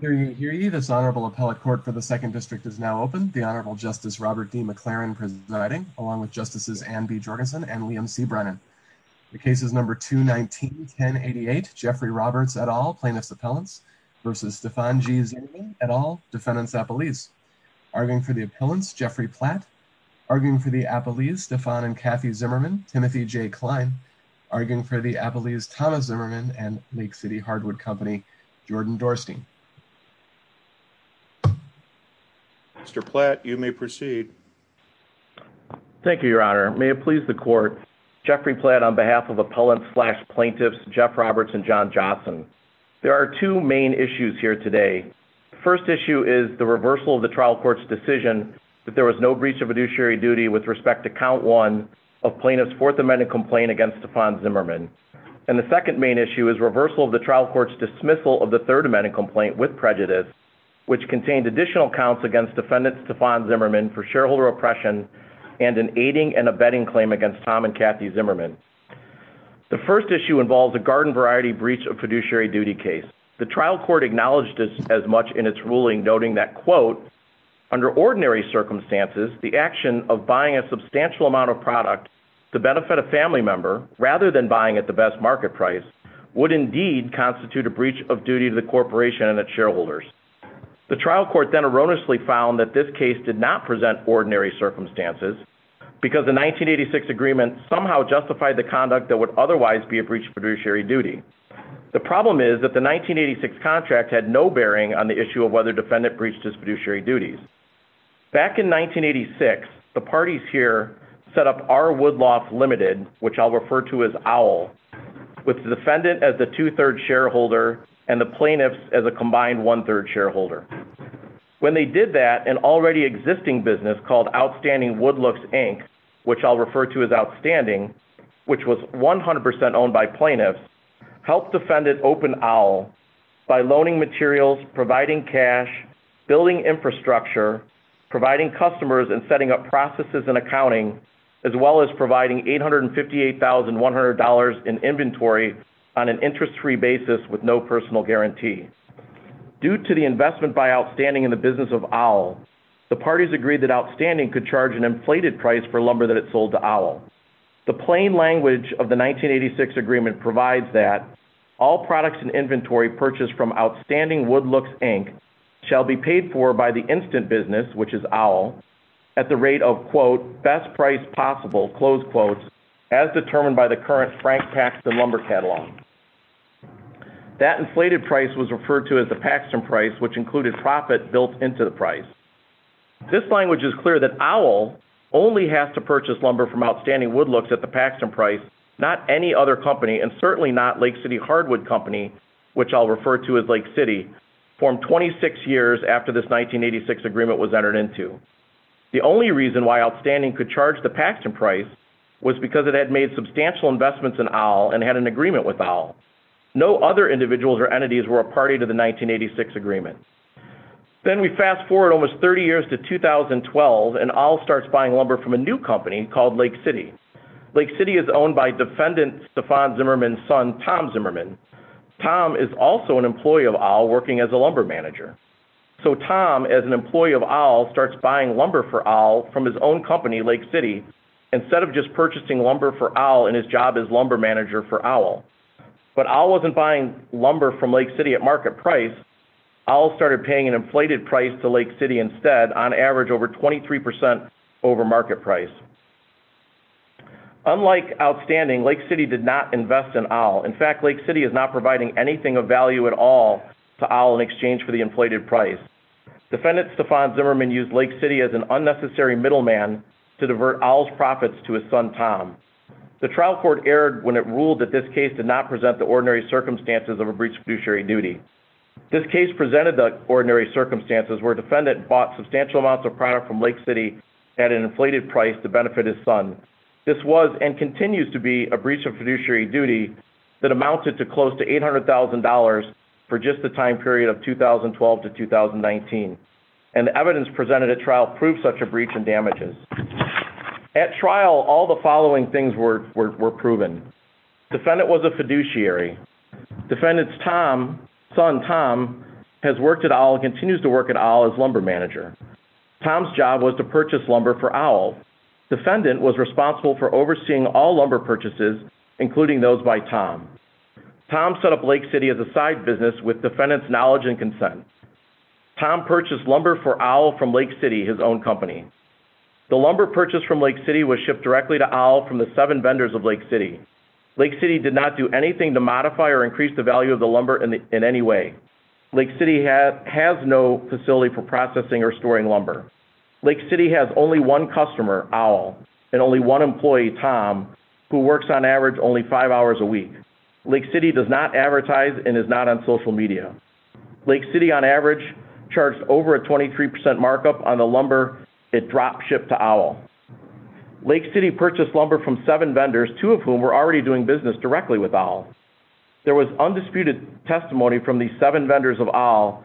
The Honorable Justice Robert D. McLaren presiding, along with Justices Anne B. Jorgensen and Liam C. Brennan. The case is number 219-1088, Jeffrey Roberts et al., plaintiff's appellants, v. Stephan G. Zimmerman et al., defendant's appellees. Arguing for the appellants, Jeffrey Platt. Arguing for the appellees, Stephan and Kathy Zimmerman, Timothy J. Klein. Arguing for the appellees, Thomas Zimmerman and Lake City Hardwood Company, Jordan Dorsky. Mr. Platt, you may proceed. Thank you, Your Honor. May it please the Court, Jeffrey Platt on behalf of appellants, plaintiffs, Jeff Roberts and John Johnson. There are two main issues here today. First issue is the reversal of the trial court's decision that there was no breach of judiciary duty with respect to count one of plaintiff's Fourth Amendment complaint against Stephan Zimmerman. And the second main issue is reversal of the trial court's dismissal of the Third Amendment complaint with prejudice, which contained additional counts against defendant Stephan Zimmerman for shareholder oppression and an aiding and abetting claim against Tom and Kathy Zimmerman. The first issue involves a garden variety breach of judiciary duty case. The trial court acknowledged this as much in its ruling, noting that, quote, under ordinary circumstances, the action of buying a substantial amount of product to benefit a family member rather than buying at the best market price would indeed constitute a breach of duty to the corporation and its shareholders. The trial court then erroneously found that this case did not present ordinary circumstances because the 1986 agreement somehow justified the conduct that would otherwise be a breach of judiciary duty. The problem is that the 1986 contract had no bearing on the issue of whether defendant breached his judiciary duties. Back in 1986, the parties here set up R. Woodlofts Limited, which I'll refer to as OWL, with the defendant as the two-third shareholder and the plaintiffs as a combined one-third shareholder. When they did that, an already existing business called Outstanding Woodlofts Inc., which I'll refer to as Outstanding, which was 100% owned by plaintiffs, helped defendant open OWL by loaning materials, providing cash, building infrastructure, providing customers and setting up processes and accounting, as well as providing $858,100 in inventory on an interest-free basis with no personal guarantee. Due to the investment by Outstanding in the business of OWL, the parties agreed that Outstanding could charge an inflated price for lumber that had sold to OWL. The plain language of the 1986 agreement provides that all products in inventory purchased from Outstanding Woodlofts Inc. shall be paid for by the instant business, which is OWL, at the rate of, quote, best price possible, close quote, as determined by the current Frank Paxton Lumber Catalog. That inflated price was referred to as the Paxton price, which included profit built into the price. This language is clear that OWL only has to purchase lumber from Outstanding Woodlofts at the Paxton price, not any other company, and certainly not Lake City Hardwood Company, which I'll refer to as Lake City, formed 26 years after this 1986 agreement was entered into. The only reason why Outstanding could charge the Paxton price was because it had made substantial investments in OWL and had an agreement with OWL. No other individuals or entities were a party to the 1986 agreement. Then we fast forward almost 30 years to 2012, and OWL starts buying lumber from a new company called Lake City. Lake City is owned by defendant Stefan Zimmerman's son, Tom Zimmerman. Tom is also an employee of OWL working as a lumber manager. So Tom, as an employee of OWL, starts buying lumber for OWL from his own company, Lake City, instead of just purchasing lumber for OWL in his job as lumber manager for OWL. But OWL wasn't buying lumber from Lake City at market price. OWL started paying an inflated price to Lake City instead, on average over 23% over market price. Unlike Outstanding, Lake City did not invest in OWL. In fact, Lake City is not providing anything of value at all to OWL in exchange for the inflated price. Defendant Stefan Zimmerman used Lake City as an unnecessary middleman to divert OWL's profits to his son, Tom. The trial court erred when it ruled that this case did not present the ordinary circumstances of a breach of fiduciary duty. This case presented the ordinary circumstances where a defendant bought substantial amounts of product from Lake City at an inflated price to benefit his son. This was, and continues to be, a breach of fiduciary duty that amounted to close to $800,000 for just the time period of 2012 to 2019. And the evidence presented at trial proved such a breach and damages. At trial, all the following things were proven. Defendant was a fiduciary. Defendant's son, Tom, has worked at OWL and continues to work at OWL as lumber manager. Tom's job was to purchase lumber for OWL. Defendant was responsible for overseeing all lumber purchases, including those by Tom. Tom set up Lake City as a side business with defendant's knowledge and consent. Tom purchased lumber for OWL from Lake City, his own company. The lumber purchased from Lake City was shipped directly to OWL from the seven vendors of Lake City. Lake City did not do anything to modify or increase the value of the lumber in any way. Lake City has no facility for processing or storing lumber. Lake City has only one customer, OWL, and only one employee, Tom, who works on average only five hours a week. Lake City does not advertise and is not on social media. Lake City, on average, charts over a 23% markup on the lumber it dropped shipped to OWL. Lake City purchased lumber from seven vendors, two of whom were already doing business directly with OWL. There was undisputed testimony from these seven vendors of OWL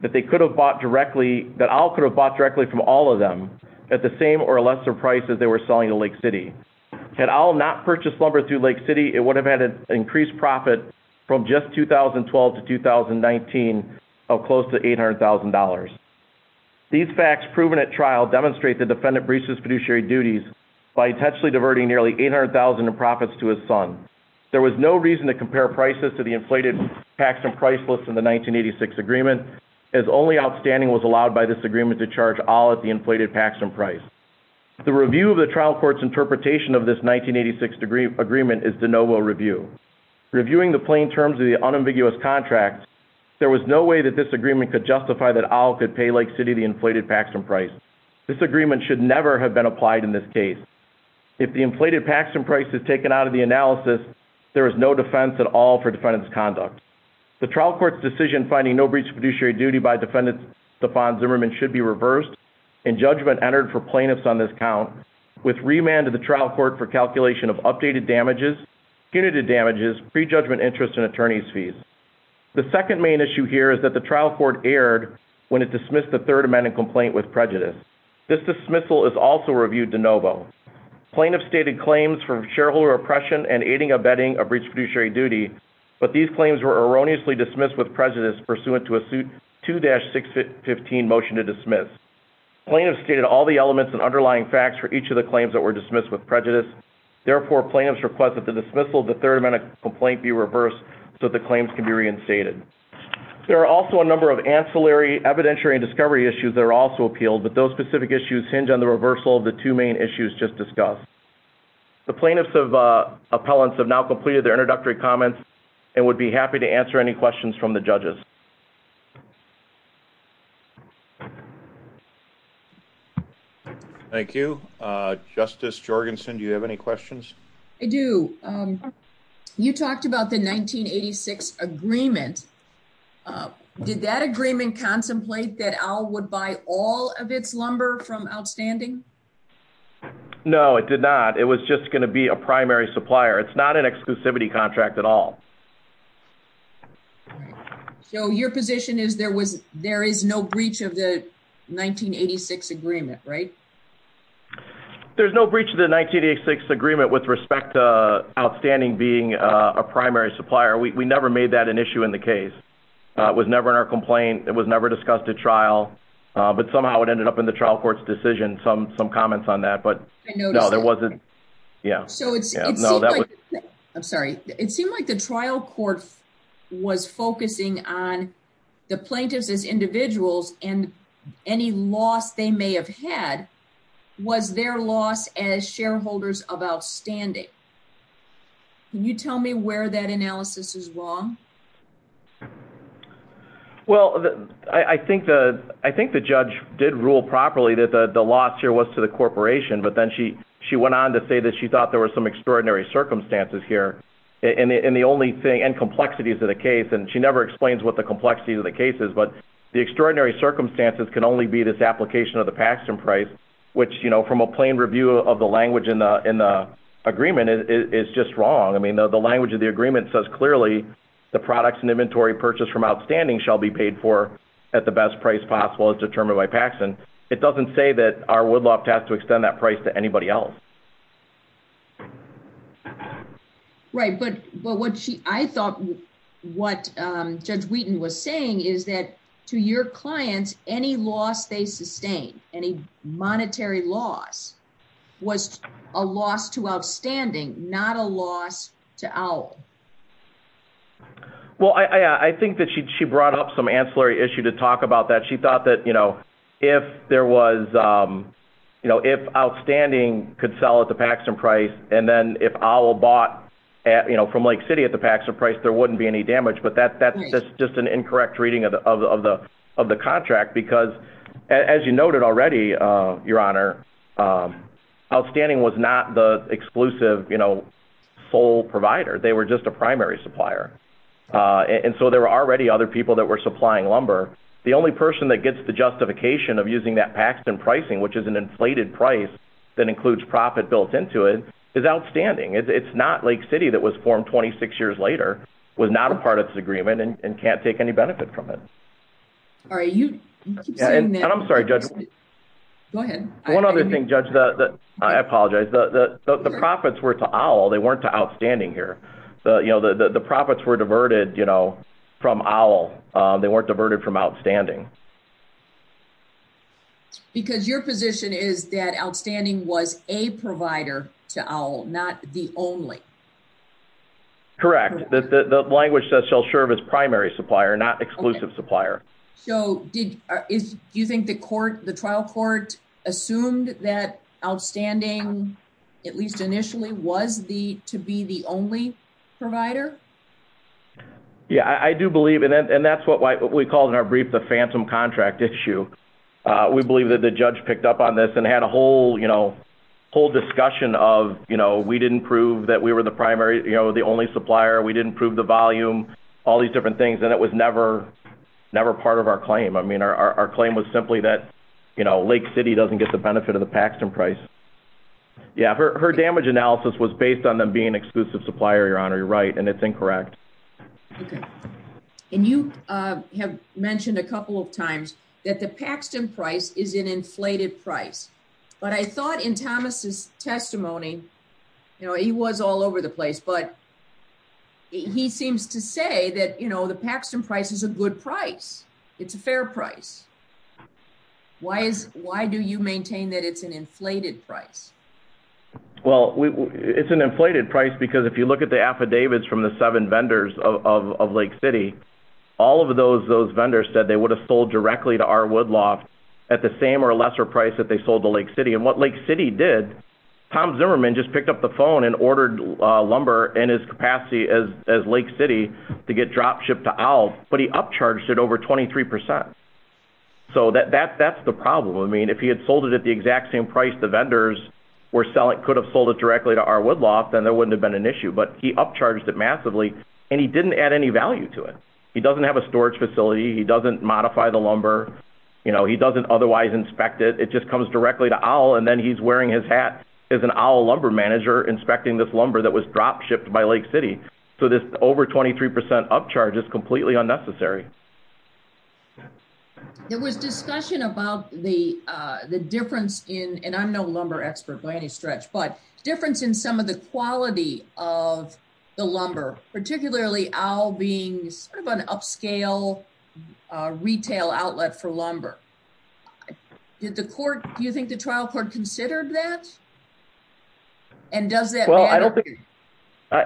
that they could have bought directly, that OWL could have bought directly from all of them at the same or lesser price as they were selling to Lake City. Had OWL not purchased lumber through Lake City, it would have had an increased profit from just 2012 to 2019 of close to $800,000. These facts proven at trial demonstrate the defendant breached his fiduciary duties by intentionally diverting nearly $800,000 in profits to his son. There was no reason to compare prices to the inflated Paxton price list in the 1986 agreement, as only outstanding was allowed by this agreement to charge OWL at the inflated Paxton price. The review of the trial court's interpretation of this 1986 agreement is de novo review. Reviewing the plain terms of the unambiguous contract, there was no way that this agreement could justify that OWL could pay Lake City the inflated Paxton price. This agreement should never have been applied in this case. If the inflated Paxton price is taken out of the analysis, there is no defense at all for defendant's conduct. The trial court's decision finding no breach of fiduciary duty by defendant Stefan Zimmerman should be reversed, and judgment entered for plaintiffs on this count, with remand to the trial court for calculation of updated damages, punitive damages, prejudgment interest, and attorney's fees. The second main issue here is that the trial court erred when it dismissed the third amendment complaint with prejudice. This dismissal is also reviewed de novo. Plaintiffs stated claims for shareholder oppression and aiding or abetting a breach of fiduciary duty, but these claims were erroneously dismissed with prejudice pursuant to a suit 2-615 motion to dismiss. Plaintiffs stated all the elements and underlying facts for each of the claims that were dismissed with prejudice. Therefore, plaintiffs request that the dismissal of the third amendment complaint be reversed so that the claims can be reinstated. There are also a number of ancillary evidentiary discovery issues that are also appealed, but those specific issues hinge on the reversal of the two main issues just discussed. The plaintiffs' appellants have now completed their introductory comments and would be happy to answer any questions from the judges. Thank you. Justice Jorgensen, do you have any questions? I do. You talked about the 1986 agreement. Did that agreement contemplate that OWL would buy all of its lumber from Outstanding? No, it did not. It was just going to be a primary supplier. It's not an exclusivity contract at all. So your position is there is no breach of the 1986 agreement, right? There's no breach of the 1986 agreement with respect to Outstanding being a primary supplier. We never made that an issue in the case. It was never in our complaint. It was never discussed at trial. But somehow it ended up in the trial court's decision. Some comments on that, but no, there wasn't. Yeah. No, that was... I'm sorry. It seemed like the trial court was focusing on the plaintiffs as individuals and any loss they may have had was their loss as shareholders of Outstanding. Can you tell me where that analysis is wrong? Well, I think the judge did rule properly that the loss here was to the corporation, but then she went on to say that she thought there were some extraordinary circumstances here, and the only thing... And complexities of the case, and she never explains what the complexity of the case is, but the extraordinary circumstances can only be this application of the Paxson price, which from a plain review of the language in the agreement, it's just wrong. The language of the agreement says clearly the products and inventory purchased from Outstanding shall be paid for at the best price possible as determined by Paxson. It doesn't say that our woodloft has to extend that price to anybody else. Right. But I thought what Judge Wheaton was saying is that to your client, any loss they sustained, any monetary loss, was a loss to Outstanding, not a loss to OWL. Well, I think that she brought up some ancillary issue to talk about that. She thought that if Outstanding could sell at the Paxson price, and then if OWL bought from Lake City at the Paxson price, there wouldn't be any damage, but that's just an incorrect reading of the contract, because as you noted already, Your Honor, Outstanding was not the exclusive sole provider. They were just a primary supplier, and so there were already other people that were supplying lumber. The only person that gets the justification of using that Paxson pricing, which is an inflated price that includes profit built into it, is Outstanding. It's not Lake City that was formed 26 years later, was not a part of this agreement, and can't take any benefit from it. All right. You keep going, man. I'm sorry, Judge. Go ahead. One other thing, Judge, that I apologize, the profits were to OWL. They weren't to Outstanding here. The profits were diverted from OWL. They weren't diverted from Outstanding. Because your position is that Outstanding was a provider to OWL, not the only. Correct. The language says shall serve as primary supplier, not exclusive supplier. Okay. So do you think the trial court assumed that Outstanding, at least initially, was to be the only provider? Yeah. I do believe, and that's what we call in our brief the phantom contract issue. We believe that the judge picked up on this and had a whole discussion of we didn't prove that we were the primary, the only supplier. We didn't prove the volume, all these different things, and it was never part of our claim. Our claim was simply that Lake City doesn't get the benefit of the Paxson price. Yeah. Her damage analysis was based on them being exclusive supplier, Your Honor, you're right, and it's incorrect. Okay. And you have mentioned a couple of times that the Paxson price is an inflated price, but I thought in Thomas' testimony, you know, he was all over the place, but he seems to say that, you know, the Paxson price is a good price. It's a fair price. Why do you maintain that it's an inflated price? Well, it's an inflated price because if you look at the affidavits from the seven vendors of Lake City, all of those vendors said they would have sold directly to R. Woodlaw at the same or lesser price that they sold to Lake City, and what Lake City did, Tom Zimmerman just picked up the phone and ordered lumber in his capacity as Lake City to get drop shipped to Owls, but he upcharged it over 23%. So that's the problem. I mean, if he had sold it at the exact same price the vendors could have sold it directly to R. Woodlaw, then there wouldn't have been an issue, but he upcharged it massively, and he didn't add any value to it. He doesn't have a storage facility, he doesn't modify the lumber, you know, he doesn't otherwise inspect it. It just comes directly to Owl, and then he's wearing his hat as an Owl lumber manager inspecting this lumber that was drop shipped by Lake City, so this over 23% upcharge is completely unnecessary. There was discussion about the difference in, and I'm no lumber expert by any stretch, but difference in some of the quality of the lumber, particularly Owl being sort of an upscale retail outlet for lumber. Did the court, do you think the trial court considered that? And does that matter? Well, I don't think,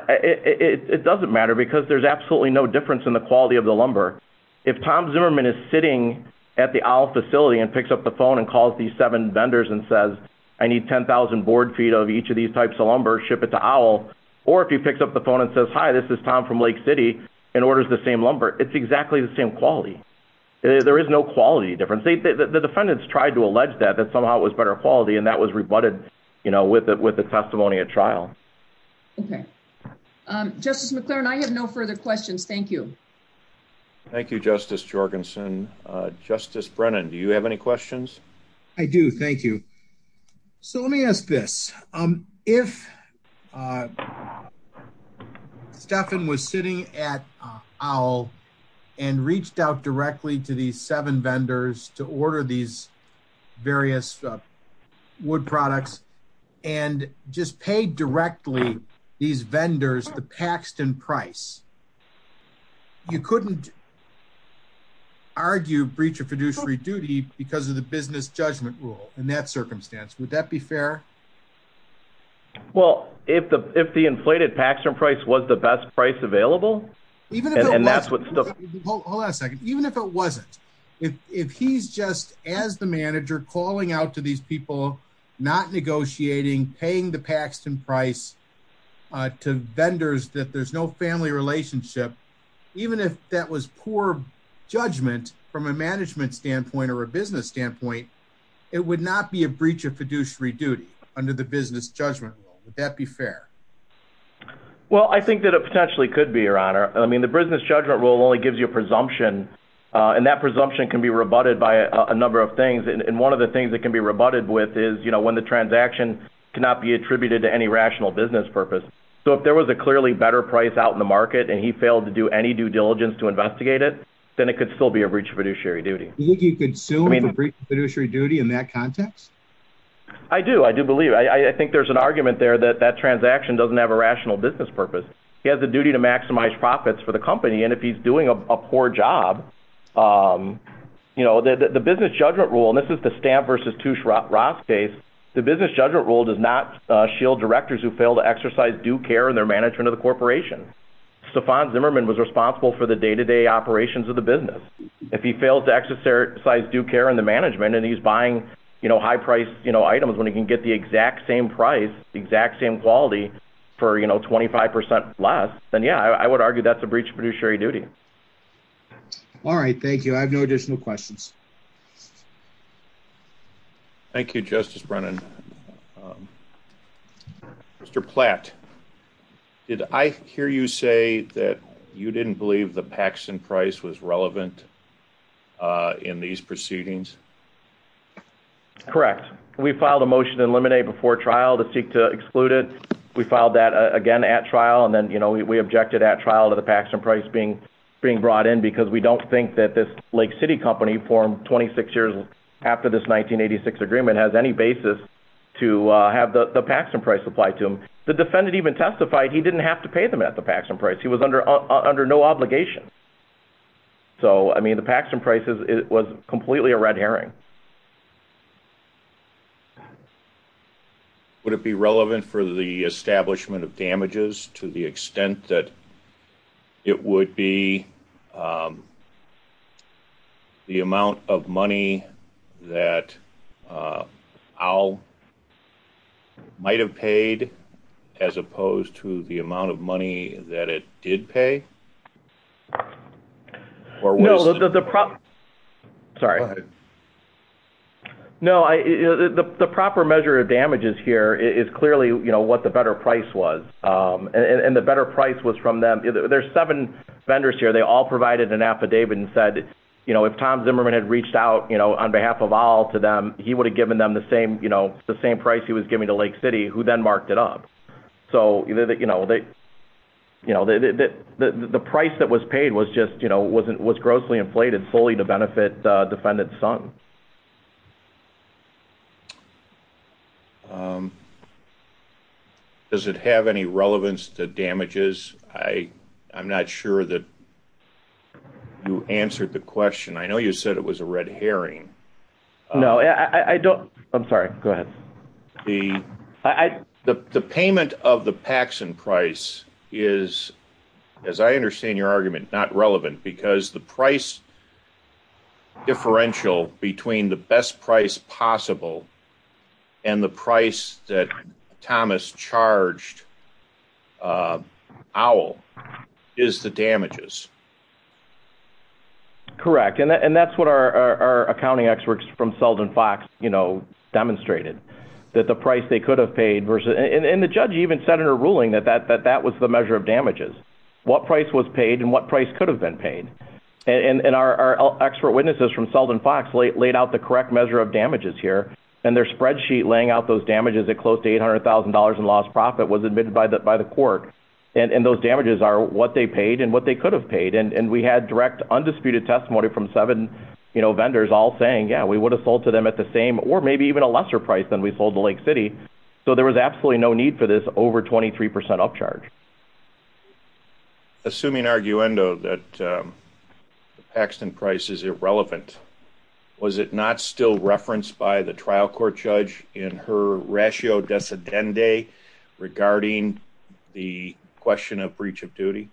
it doesn't matter because there's absolutely no difference in the quality of the lumber. If Tom Zimmerman is sitting at the Owl facility and picks up the phone and calls these seven vendors and says, I need 10,000 board feet of each of these types of lumber, ship it to Owl, or if he picks up the phone and says, hi, this is Tom from Lake City, and orders the same lumber, it's exactly the same quality. There is no quality difference. The defendants tried to allege that, that somehow it was better quality, and that was rebutted, you know, with the testimony at trial. Okay. Justice McClaren, I have no further questions. Thank you. Thank you, Justice Jorgensen. Justice Brennan, do you have any questions? I do. Thank you. So let me ask this, if Stephan was sitting at Owl and reached out directly to these seven vendors, the Paxton price, you couldn't argue breach of fiduciary duty because of the business judgment rule in that circumstance. Would that be fair? Well, if the inflated Paxton price was the best price available, and that's what's still – Hold on a second. Even if it wasn't, if he's just, as the manager, calling out to these people, not to vendors, that there's no family relationship, even if that was poor judgment from a management standpoint or a business standpoint, it would not be a breach of fiduciary duty under the business judgment rule. Would that be fair? Well, I think that it potentially could be, Your Honor. I mean, the business judgment rule only gives you a presumption, and that presumption can be rebutted by a number of things, and one of the things that can be rebutted with is, you know, when the transaction cannot be attributed to any rational business purpose. So, if there was a clearly better price out in the market, and he failed to do any due diligence to investigate it, then it could still be a breach of fiduciary duty. Do you think he could still be a breach of fiduciary duty in that context? I do. I do believe. I think there's an argument there that that transaction doesn't have a rational business purpose. He has a duty to maximize profits for the company, and if he's doing a poor job, you know, the business judgment rule, and this is the Stamp v. Touche Ross case, the business judgment rule says that he's doing a poor job of doing due care in their management of the corporation. Stefan Zimmerman was responsible for the day-to-day operations of the business. If he fails to exercise due care in the management, and he's buying, you know, high-priced, you know, items when he can get the exact same price, the exact same quality for, you know, 25% less, then, yeah, I would argue that's a breach of fiduciary duty. All right. Thank you. I have no additional questions. Thank you, Justice Brennan. Mr. Platt, did I hear you say that you didn't believe the Paxson price was relevant in these proceedings? Correct. We filed a motion to eliminate before trial to seek to exclude it. We filed that, again, at trial, and then, you know, we objected at trial to the Paxson price being brought in because we don't think that this Lake City company formed 26 years after this 1986 agreement has any basis to have the Paxson price applied to them. The defendant even testified he didn't have to pay them at the Paxson price. He was under no obligation. So, I mean, the Paxson price was completely a red herring. Would it be relevant for the establishment of damages to the extent that it would be relevant to the amount of money that Al might have paid as opposed to the amount of money that it did pay? No, the proper measure of damages here is clearly, you know, what the better price was. And the better price was from them. There's seven vendors here. And they all provided an affidavit and said, you know, if Tom Zimmerman had reached out, you know, on behalf of Al to them, he would have given them the same, you know, the same price he was giving to Lake City, who then marked it up. So, you know, the price that was paid was just, you know, was grossly inflated solely to benefit the defendant's son. Does it have any relevance to damages? I'm not sure that you answered the question. I know you said it was a red herring. No, I don't. I'm sorry. Go ahead. The payment of the Paxson price is, as I understand your argument, not relevant because the price Owl is the damages. Correct. And that's what our accounting experts from Selden Fox, you know, demonstrated, that the price they could have paid, and the judge even said in a ruling that that was the measure of damages, what price was paid and what price could have been paid. And our expert witnesses from Selden Fox laid out the correct measure of damages here, and their spreadsheet laying out those damages at close to $800,000 in lost profit was admitted by the court. And those damages are what they paid and what they could have paid. And we had direct, undisputed testimony from seven, you know, vendors all saying, yeah, we would have sold to them at the same or maybe even a lesser price than we sold to Lake City. So there was absolutely no need for this over 23% upcharge. Assuming arguendo that the Paxson price is irrelevant, was it not still referenced by the trial court judge in her ratio descendant day regarding the question of breach of duty?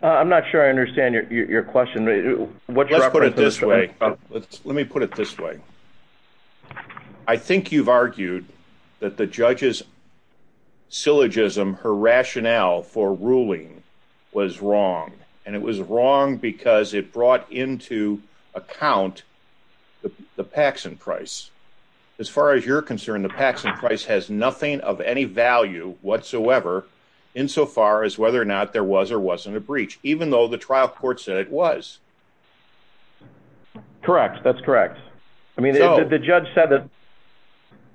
I'm not sure I understand your question. What do I put it this way? Let me put it this way. I think you've argued that the judges syllogism, her rationale for ruling was wrong. And it was wrong because it brought into account the Paxson price. As far as you're concerned, the Paxson price has nothing of any value whatsoever insofar as whether or not there was or wasn't a breach, even though the trial court said it was. Correct. That's correct. I mean, the judge said that.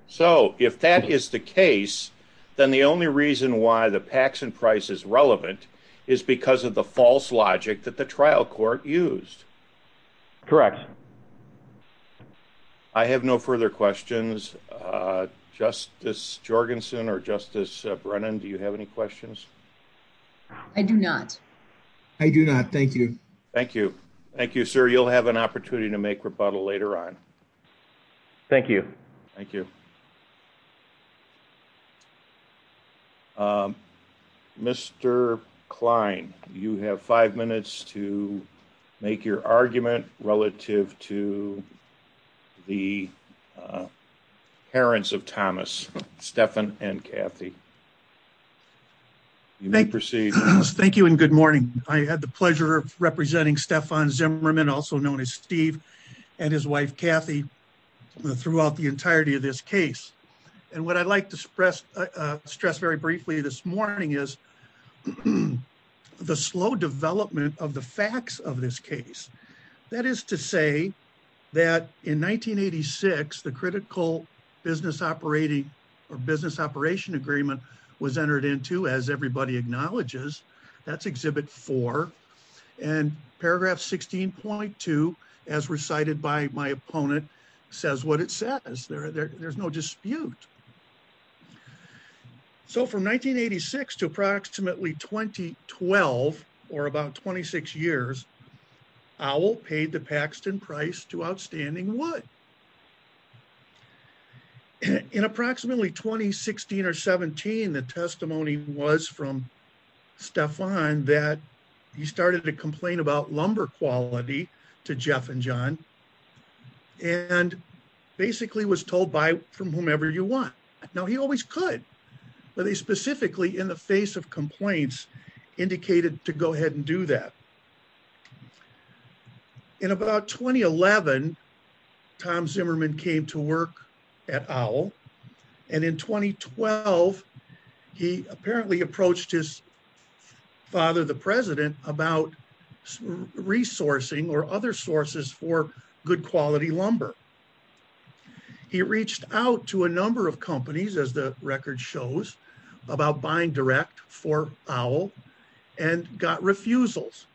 So if that is the case, then the only reason why the Paxson price is relevant is because of the false logic that the trial court used. Correct. I have no further questions. Justice Jorgensen or Justice Brennan, do you have any questions? I do not. I do not. Thank you. Thank you. Thank you, sir. You'll have an opportunity to make rebuttal later on. Thank you. Thank you. Mr. Klein, you have five minutes to make your argument relative to the parents of Thomas, Stephan and Kathy. You may proceed. Thank you. And good morning. I had the pleasure of representing Stephan Zimmerman, also known as Steve, and his wife And what I'd like to stress very briefly this morning is the slow development of the facts of this case. That is to say that in 1986, the critical business operating or business operation agreement was entered into, as everybody acknowledges, that's Exhibit 4, and paragraph 16.2, as recited by my opponent, says what it says. There's no dispute. So from 1986 to approximately 2012, or about 26 years, Powell paid the Paxton price to Outstanding Wood. In approximately 2016 or 17, the testimony was from Stephan that he started to complain about lumber quality to Jeff and John, and basically was told buy from whomever you want. Now, he always could, but he specifically, in the face of complaints, indicated to go ahead and do that. In about 2011, Tom Zimmerman came to work at Powell, and in 2012, he apparently approached his father, the president, about resourcing or other sources for good quality lumber. He reached out to a number of companies, as the record shows, about buying direct for Powell, and got refusals.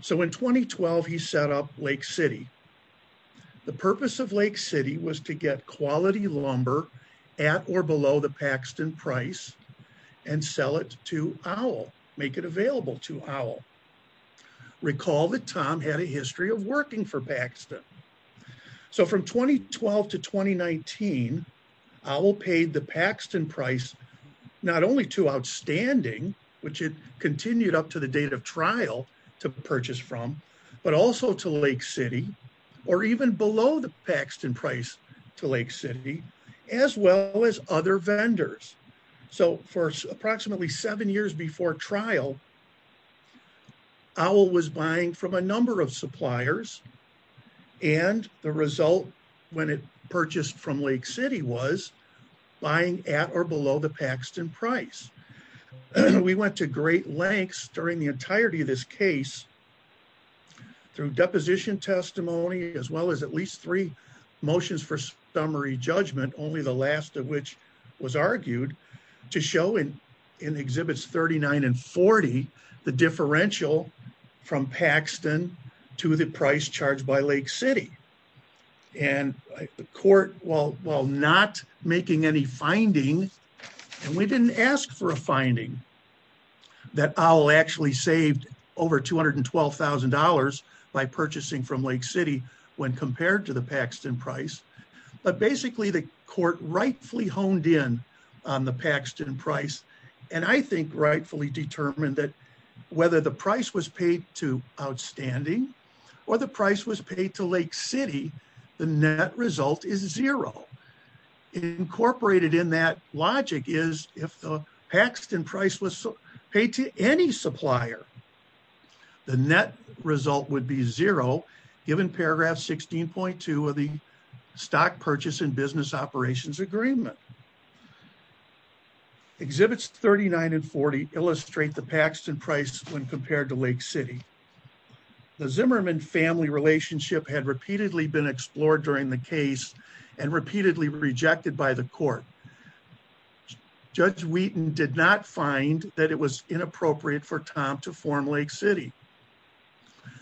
So in 2012, he set up Lake City. The purpose of Lake City was to get quality lumber at or below the Paxton price and sell it to Owl, make it available to Owl. Recall that Tom had a history of working for Paxton. So from 2012 to 2019, Owl paid the Paxton price not only to Outstanding, which it continued up to the date of trial to purchase from, but also to Lake City, or even below the Paxton price to Lake City, as well as other vendors. So for approximately seven years before trial, Owl was buying from a number of suppliers, and the result when it purchased from Lake City was buying at or below the Paxton price. We went to great lengths during the entirety of this case through deposition testimony, as well as at least three motions for summary judgment, only the last of which was argued, to show in Exhibits 39 and 40 the differential from Paxton to the price charged by Lake City. And the court, while not making any finding, and we didn't ask for a finding, that Owl actually saved over $212,000 by purchasing from Lake City when compared to the Paxton price, but basically the court rightfully honed in on the Paxton price, and I think rightfully determined that whether the price was paid to Outstanding or the price was paid to Lake City, the net result is zero. Incorporated in that logic is if the Paxton price was paid to any supplier, the net result would be zero, given paragraph 16.2 of the Stock Purchase and Business Operations Agreement. Exhibits 39 and 40 illustrate the Paxton price when compared to Lake City. The Zimmerman family relationship had repeatedly been explored during the case and repeatedly rejected by the court. Judge Wheaton did not find that it was inappropriate for Tom to form Lake City.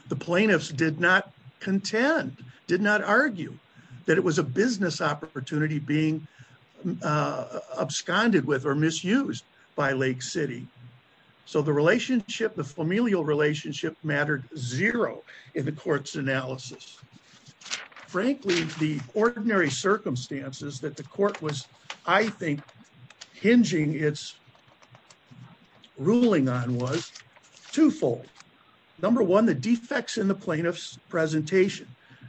The plaintiffs did not contend, did not argue, that it was a business opportunity being absconded with or misused by Lake City. So the relationship, the familial relationship mattered zero in the court's analysis. Frankly, the ordinary circumstances that the court was, I think, hinging its ruling on was twofold. Number one, the defects in the plaintiff's presentation.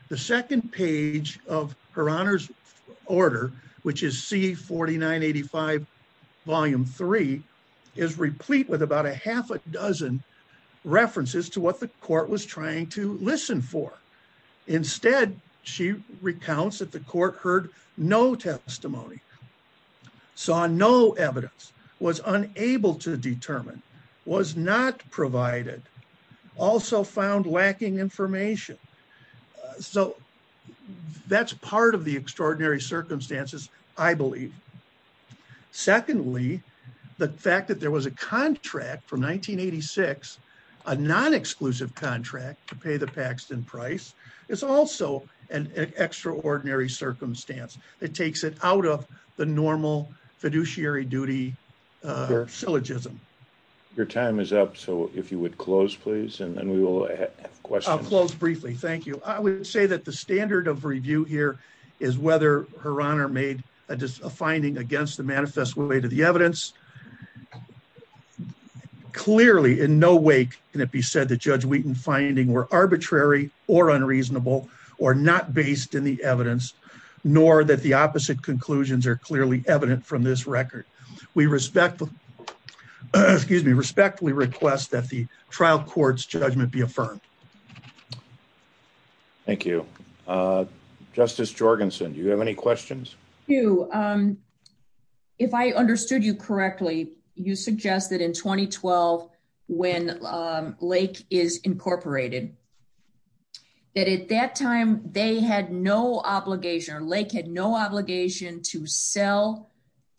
The second page of her Honor's Order, which is C-4985, Volume 3, is replete with about a half a dozen references to what the court was trying to listen for. Instead, she recounts that the court heard no testimony, saw no evidence, was unable to determine, was not provided, also found lacking information. So that's part of the extraordinary circumstances, I believe. Secondly, the fact that there was a contract from 1986, a non-exclusive contract to pay the Paxton price, is also an extraordinary circumstance that takes it out of the normal fiduciary duty syllogism. Your time is up, so if you would close, please, and we will have questions. I'll close briefly, thank you. I would say that the standard of review here is whether her Honor made a finding against the manifest way to the evidence. Clearly in no way can it be said that Judge Wheaton's findings were arbitrary or unreasonable or not based in the evidence, nor that the opposite conclusions are clearly evident from this record. We respectfully request that the trial court's judgment be affirmed. Thank you. Justice Jorgensen, do you have any questions? Hugh, if I understood you correctly, you suggested in 2012 when Lake is incorporated, that at least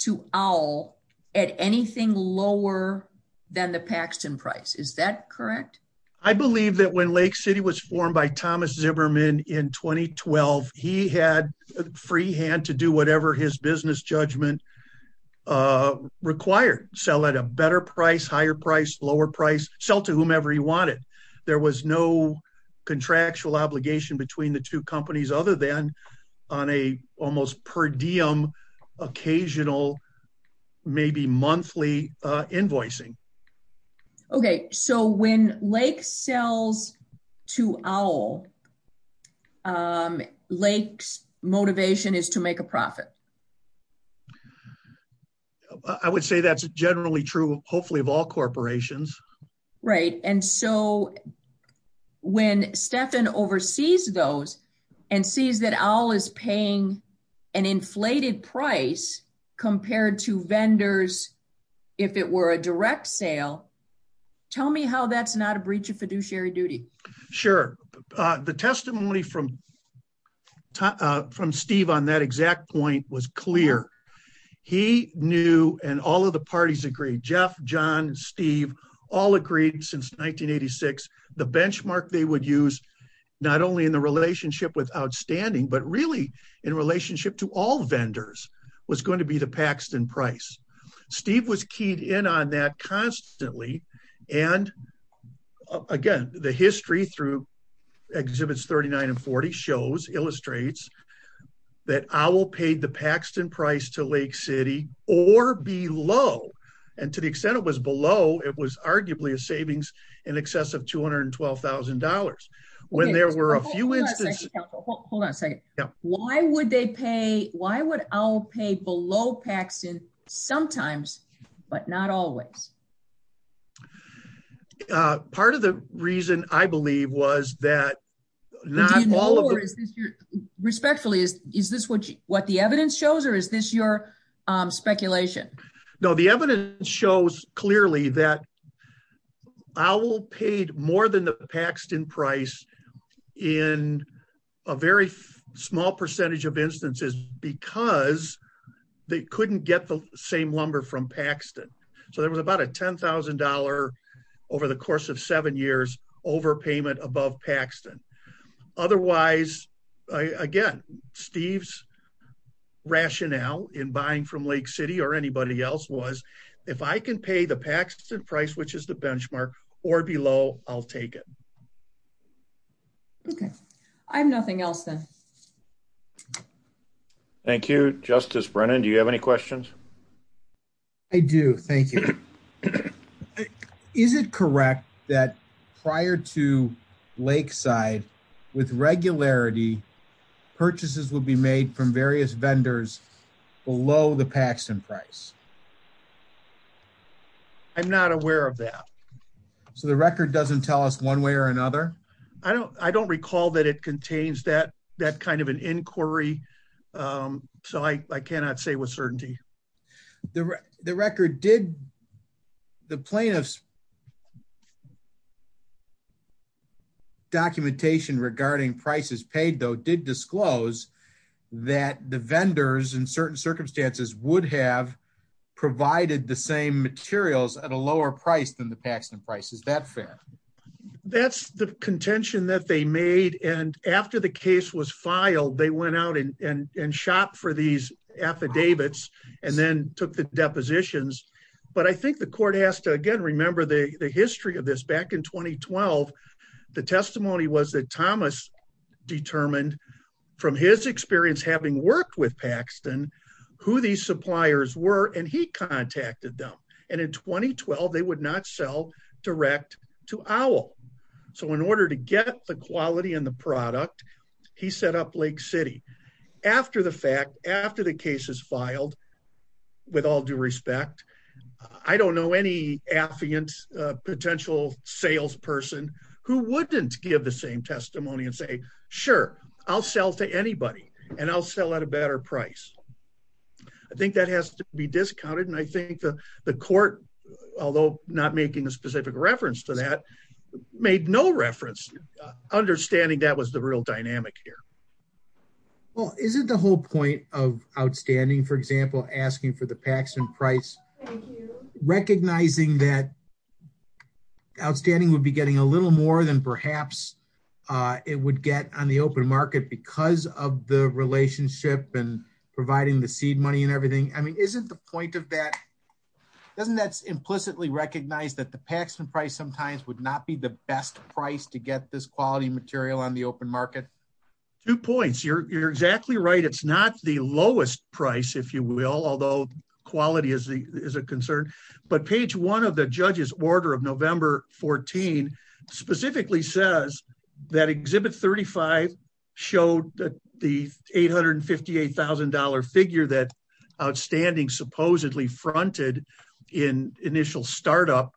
to Owl, at anything lower than the Paxton price, is that correct? I believe that when Lake City was formed by Thomas Zimmerman in 2012, he had free hand to do whatever his business judgment required. Sell at a better price, higher price, lower price, sell to whomever he wanted. There was no contractual obligation between the two companies other than on a almost per maybe monthly invoicing. Okay, so when Lake sells to Owl, Lake's motivation is to make a profit? I would say that's generally true hopefully of all corporations. Right, and so when Stephan oversees those and sees that Owl is paying an inflated price compared to vendors, if it were a direct sale, tell me how that's not a breach of fiduciary duty? Sure, the testimony from Steve on that exact point was clear. He knew and all of the parties agreed, Jeff, John, Steve, all agreed since 1986, the benchmark they would use not only in the relationship with Outstanding, but really in relationship to all vendors was going to be the Paxton price. Steve was keyed in on that constantly. And again, the history through Exhibits 39 and 40 illustrates that Owl paid the Paxton price to Lake City or below, and to the extent it was below, it was arguably a savings in excess of $212,000. Wait, hold on a second, why would Owl pay below Paxton sometimes, but not always? Part of the reason, I believe, was that not all... Respectfully, is this what the evidence shows or is this your speculation? No, the evidence shows clearly that Owl paid more than the Paxton price in a very small percentage of instances because they couldn't get the same lumber from Paxton. So there was about a $10,000 over the course of seven years overpayment above Paxton. Otherwise, again, Steve's rationale in buying from Lake City or anybody else was, if I can pay the Paxton price, which is the benchmark, or below, I'll take it. Okay, I have nothing else then. Thank you. Justice Brennan, do you have any questions? I do, thank you. Is it correct that prior to Lakeside, with regularity, purchases would be made from various vendors below the Paxton price? I'm not aware of that. So the record doesn't tell us one way or another? I don't recall that it contains that kind of an inquiry, so I cannot say with certainty. The record did, the plaintiff's documentation regarding prices paid, though, did disclose that the vendors in certain circumstances would have provided the same materials at a lower price than the Paxton price. Is that fair? That's the contention that they made, and after the case was filed, they went out and shopped for these affidavits and then took the depositions. But I think the court has to, again, remember the history of this. Back in 2012, the testimony was that Thomas determined, from his experience having worked with Paxton, who these suppliers were, and he contacted them. And in 2012, they would not sell direct to Owl. So in order to get the quality and the product, he set up Lake City. After the fact, after the case is filed, with all due respect, I don't know any affiant potential salesperson who wouldn't give the same testimony and say, sure, I'll sell to anybody, and I'll sell at a better price. I think that has to be discounted, and I think the court, although not making a specific reference to that, made no reference, understanding that was the real dynamic here. Well, isn't the whole point of Outstanding, for example, asking for the Paxton price, recognizing that Outstanding would be getting a little more than perhaps it would get on the open market because of the relationship and providing the seed money and everything? I mean, isn't the point of that, doesn't that implicitly recognize that the Paxton price sometimes would not be the best price to get this quality material on the open market? Two points. You're exactly right. It's not the lowest price, if you will, although quality is a concern. But page one of the judge's order of November 14 specifically says that Exhibit 35 showed that the $858,000 figure that Outstanding supposedly fronted in initial startup,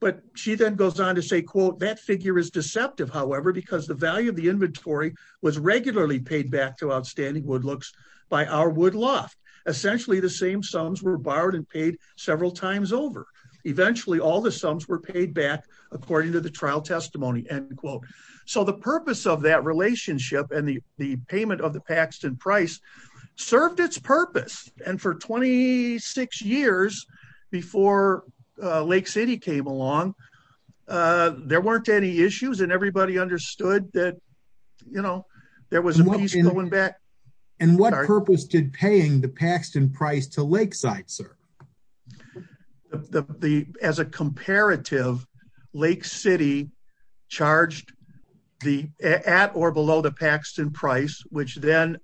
but she then goes on to say, quote, that figure is deceptive, however, because the value of inventory was regularly paid back to Outstanding Woodlooks by our woodloft. Essentially, the same sums were borrowed and paid several times over. Eventually, all the sums were paid back according to the trial testimony, end quote. So the purpose of that relationship and the payment of the Paxton price served its purpose. And for 26 years before Lake City came along, there weren't any issues and everybody understood that, you know, there was money going back. And what purpose did paying the Paxton price to Lakeside serve? As a comparative, Lake City charged at or below the Paxton price, which then,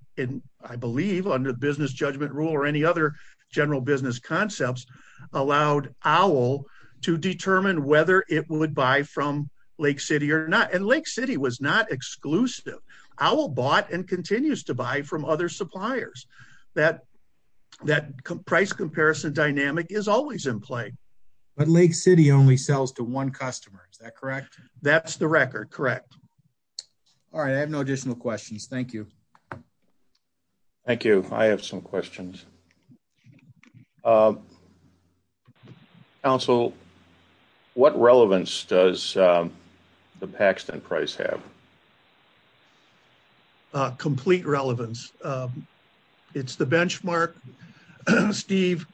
I believe, under business judgment rule or any other general business concepts, allowed Owl to determine whether it would buy from Lake City or not. And Lake City was not exclusive. Owl bought and continues to buy from other suppliers. That price comparison dynamic is always in play. But Lake City only sells to one customer, is that correct? That's the record, correct. All right, I have no additional questions. Thank you. Thank you. I have some questions. Council, what relevance does the Paxton price have? Complete relevance. It's the benchmark. Steve,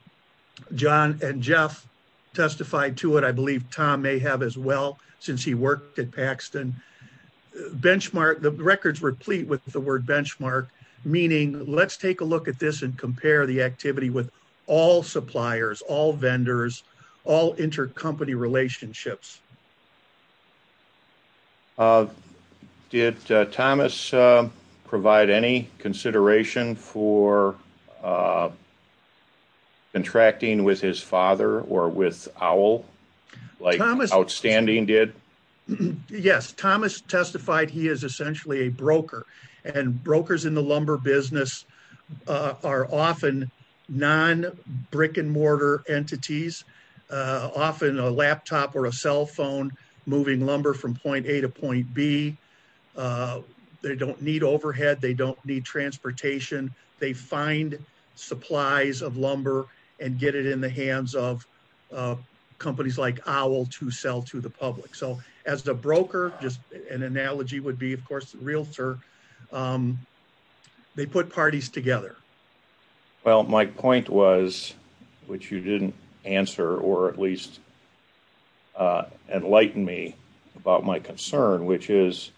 John, and Jeff testified to it. I believe Tom may have as well, since he worked at Paxton. Benchmark, the record's replete with the word benchmark, meaning let's take a look at this and compare the activity with all suppliers, all vendors, all intercompany relationships. Did Thomas provide any consideration for contracting with his father or with Owl? Like Outstanding did? Yes, Thomas testified he is essentially a broker. And brokers in the lumber business are often non-brick and mortar entities. Often a laptop or a cell phone moving lumber from point A to point B. They don't need overhead. They don't need transportation. They find supplies of lumber and get it in the hands of companies like Owl to sell to the public. As a broker, an analogy would be a realtor, they put parties together. My point was, which you didn't answer or at least enlighten me about my concern, which is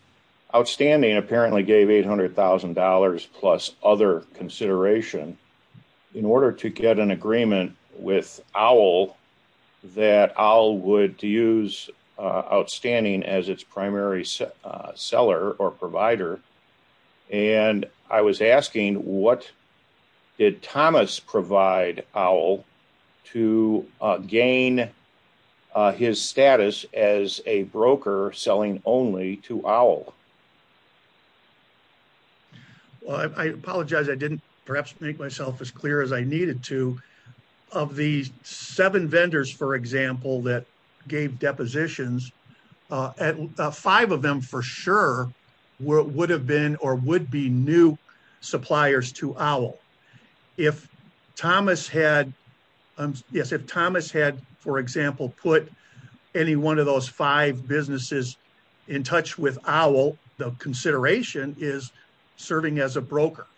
Outstanding apparently gave $800,000 plus other consideration in order to get an Outstanding as its primary seller or provider. And I was asking, what did Thomas provide Owl to gain his status as a broker selling only to Owl? Well, I apologize. I didn't perhaps make myself as clear as I needed to. Of the seven vendors, for example, that gave depositions, five of them for sure would have been or would be new suppliers to Owl. If Thomas had, for example, put any one of those five businesses in touch with Owl,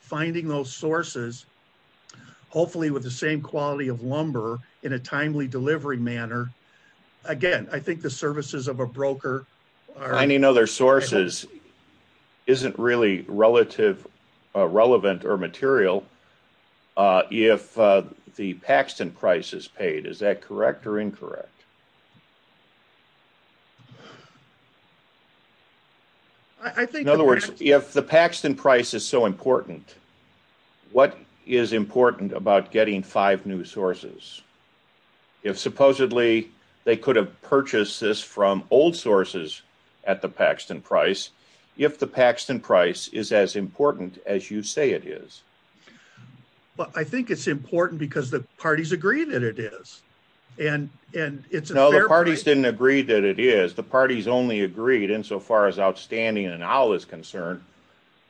finding those sources, hopefully with the same quality of lumber in a timely delivery manner, again, I think the services of a broker are... Finding other sources isn't really relevant or material if the Paxton price is paid. Is that correct or incorrect? In other words, if the Paxton price is so important, what is important about getting five new sources? If supposedly they could have purchased this from old sources at the Paxton price, if the Paxton price is as important as you say it is? Well, I think it's important because the parties agree that it is. And it's... No, the parties didn't agree that it is. The parties only agreed insofar as Outstanding and Owl is concerned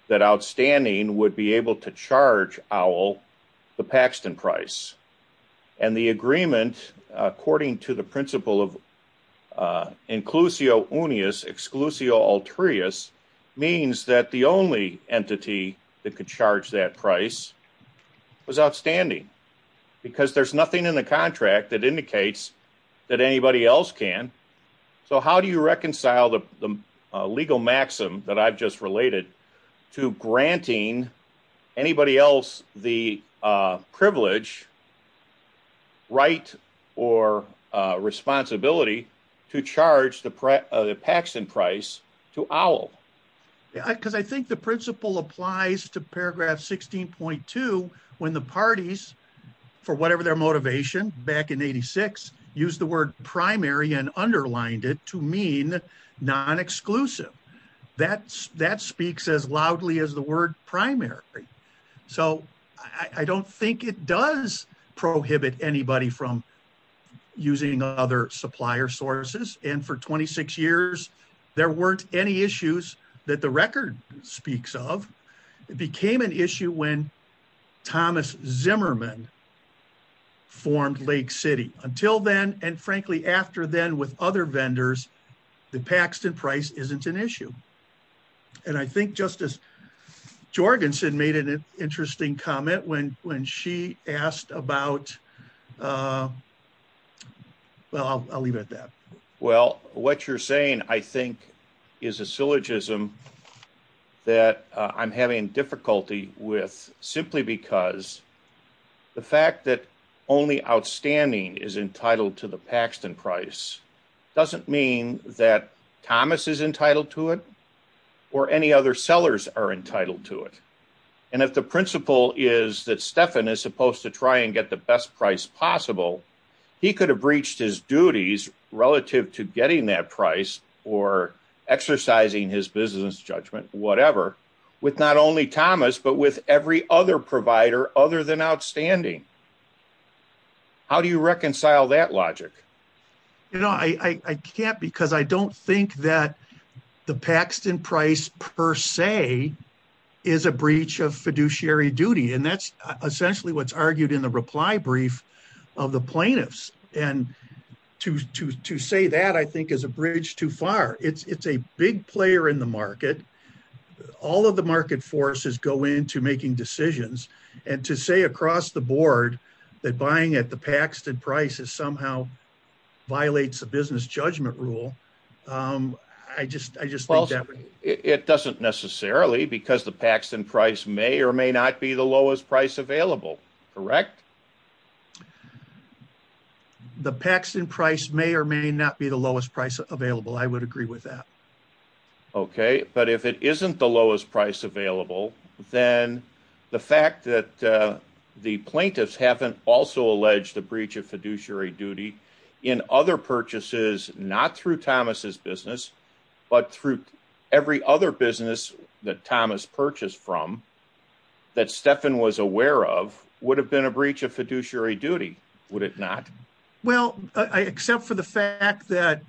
that Outstanding would be able to charge Owl the Paxton price. And the agreement, according to the principle of inclusio uneus exclusio altreus means that the only entity that could charge that price is Outstanding because there's nothing in the contract that indicates that anybody else can. So how do you reconcile the legal maxim that I've just related to granting anybody else the privilege, right, or responsibility to charge the Paxton price to Owl? Because I think the principle applies to paragraph 16.2 when the parties, for whatever their motivation back in 86, used the word primary and underlined it to mean non-exclusive. That speaks as loudly as the word primary. So I don't think it does prohibit anybody from using other supplier sources. And for 26 years, there weren't any issues that the record speaks of. It became an issue when Thomas Zimmerman formed Lake City. Until then, and frankly, after then with other vendors, the Paxton price isn't an issue. And I think Justice Jorgensen made an interesting comment when she asked about... Well, I'll leave it at that. Well, what you're saying, I think, is a syllogism that I'm having difficulty with, simply because the fact that only Outstanding is entitled to the Paxton price doesn't mean that Thomas is entitled to it or any other sellers are entitled to it. And if the principle is that Stephan is supposed to try and get the best price possible, he could have breached his duties relative to getting that price or exercising his business judgment, whatever, with not only Thomas, but with every other provider other than Outstanding. How do you reconcile that logic? You know, I can't because I don't think that the Paxton price per se is a breach of fiduciary duty. And that's essentially what's argued in the reply brief of the plaintiffs. And to say that, I think, is a bridge too far. It's a big player in the market. All of the market forces go into making decisions. And to say across the board that buying at the Paxton price has somehow violated the business judgment rule, I just think that... It doesn't necessarily because the Paxton price may or may not be the lowest price available. Correct? The Paxton price may or may not be the lowest price available. I would agree with that. Okay. But if it isn't the lowest price available, then the fact that the plaintiffs haven't also alleged the breach of fiduciary duty in other purchases, not through Thomas's business, but through every other business that Thomas purchased from, that Stephan was aware of, would have been a breach of fiduciary duty. Would it not? Well, except for the fact that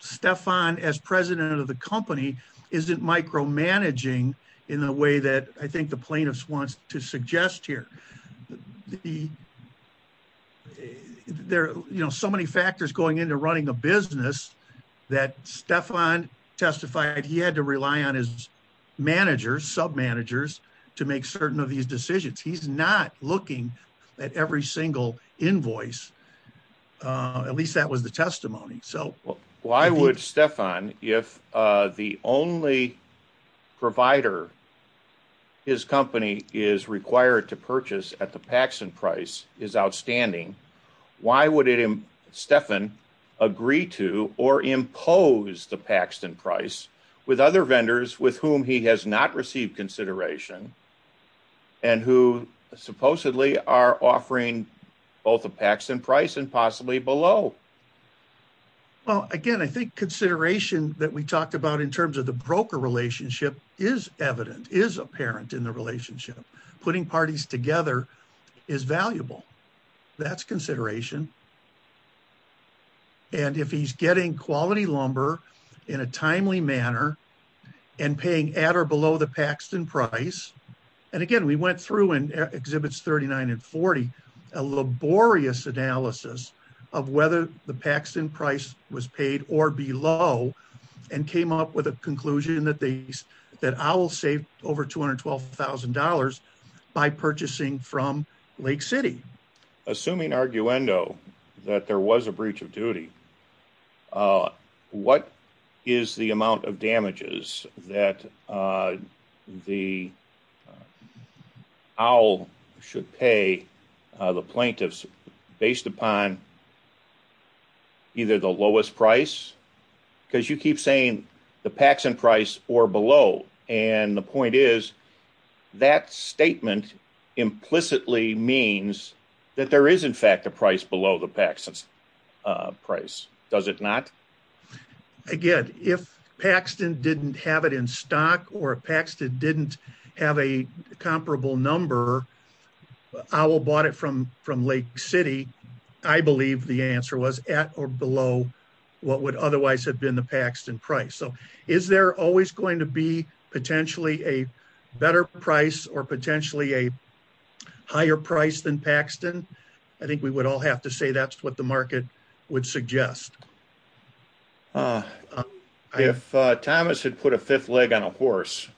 Stephan, as president of the company, isn't micromanaging in a way that I think the plaintiffs want to suggest here. The... There are so many factors going into running a business that Stephan testified he had to rely on his managers, sub-managers, to make certain of these decisions. He's not looking at every single invoice. At least that was the testimony. Why would Stephan, if the only provider his company is required to purchase at the Paxton price is outstanding, why would Stephan agree to or impose the Paxton price with other vendors with whom he has not received consideration and who supposedly are offering both a Paxton price and possibly below? Well, again, I think consideration that we talked about in terms of the broker relationship is evident, is apparent in the relationship. Putting parties together is valuable. That's consideration. And if he's getting quality lumber in a timely manner and paying at or below the Paxton price, and again, we went through in Exhibits 39 and 40, a laborious analysis of whether the Paxton price was paid or below and came up with a conclusion that owl saved over $212,000 by purchasing from Lake City. Assuming arguendo that there was a breach of duty, what is the amount of damages that the owl should pay the plaintiffs based upon either the lowest price? Because you keep saying the Paxton price or below, and the point is that statement implicitly means that there is in fact a price below the Paxton price, does it not? Again, if Paxton didn't have it in stock or if Paxton didn't have a comparable number, the owl bought it from Lake City, I believe the answer was at or below what would otherwise have been the Paxton price. So is there always going to be potentially a better price or potentially a higher price than Paxton? I think we would all have to say that's what the market would suggest. If Thomas had put a fifth leg on a horse,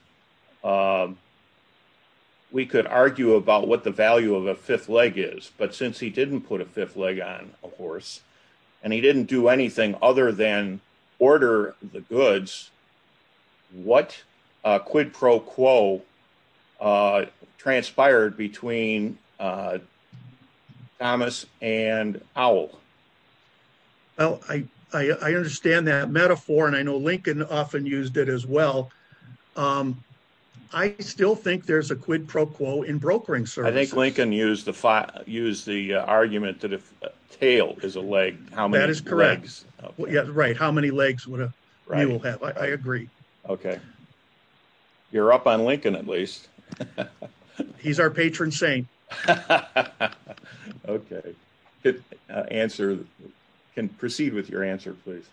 we could argue about what the value of a fifth leg is, but since he didn't put a fifth leg on a horse and he didn't do anything other than order the goods, what quid pro quo transpired between Thomas and owl? Well, I understand that metaphor and I know Lincoln often used it as well. I still think there's a quid pro quo in brokering services. I think Lincoln used the argument that if a tail is a leg, how many legs? That is correct. Yeah, right, how many legs would an owl have? I agree. Okay. You're up on Lincoln, at least. He's our patron saint. Okay. Can you proceed with your answer, please?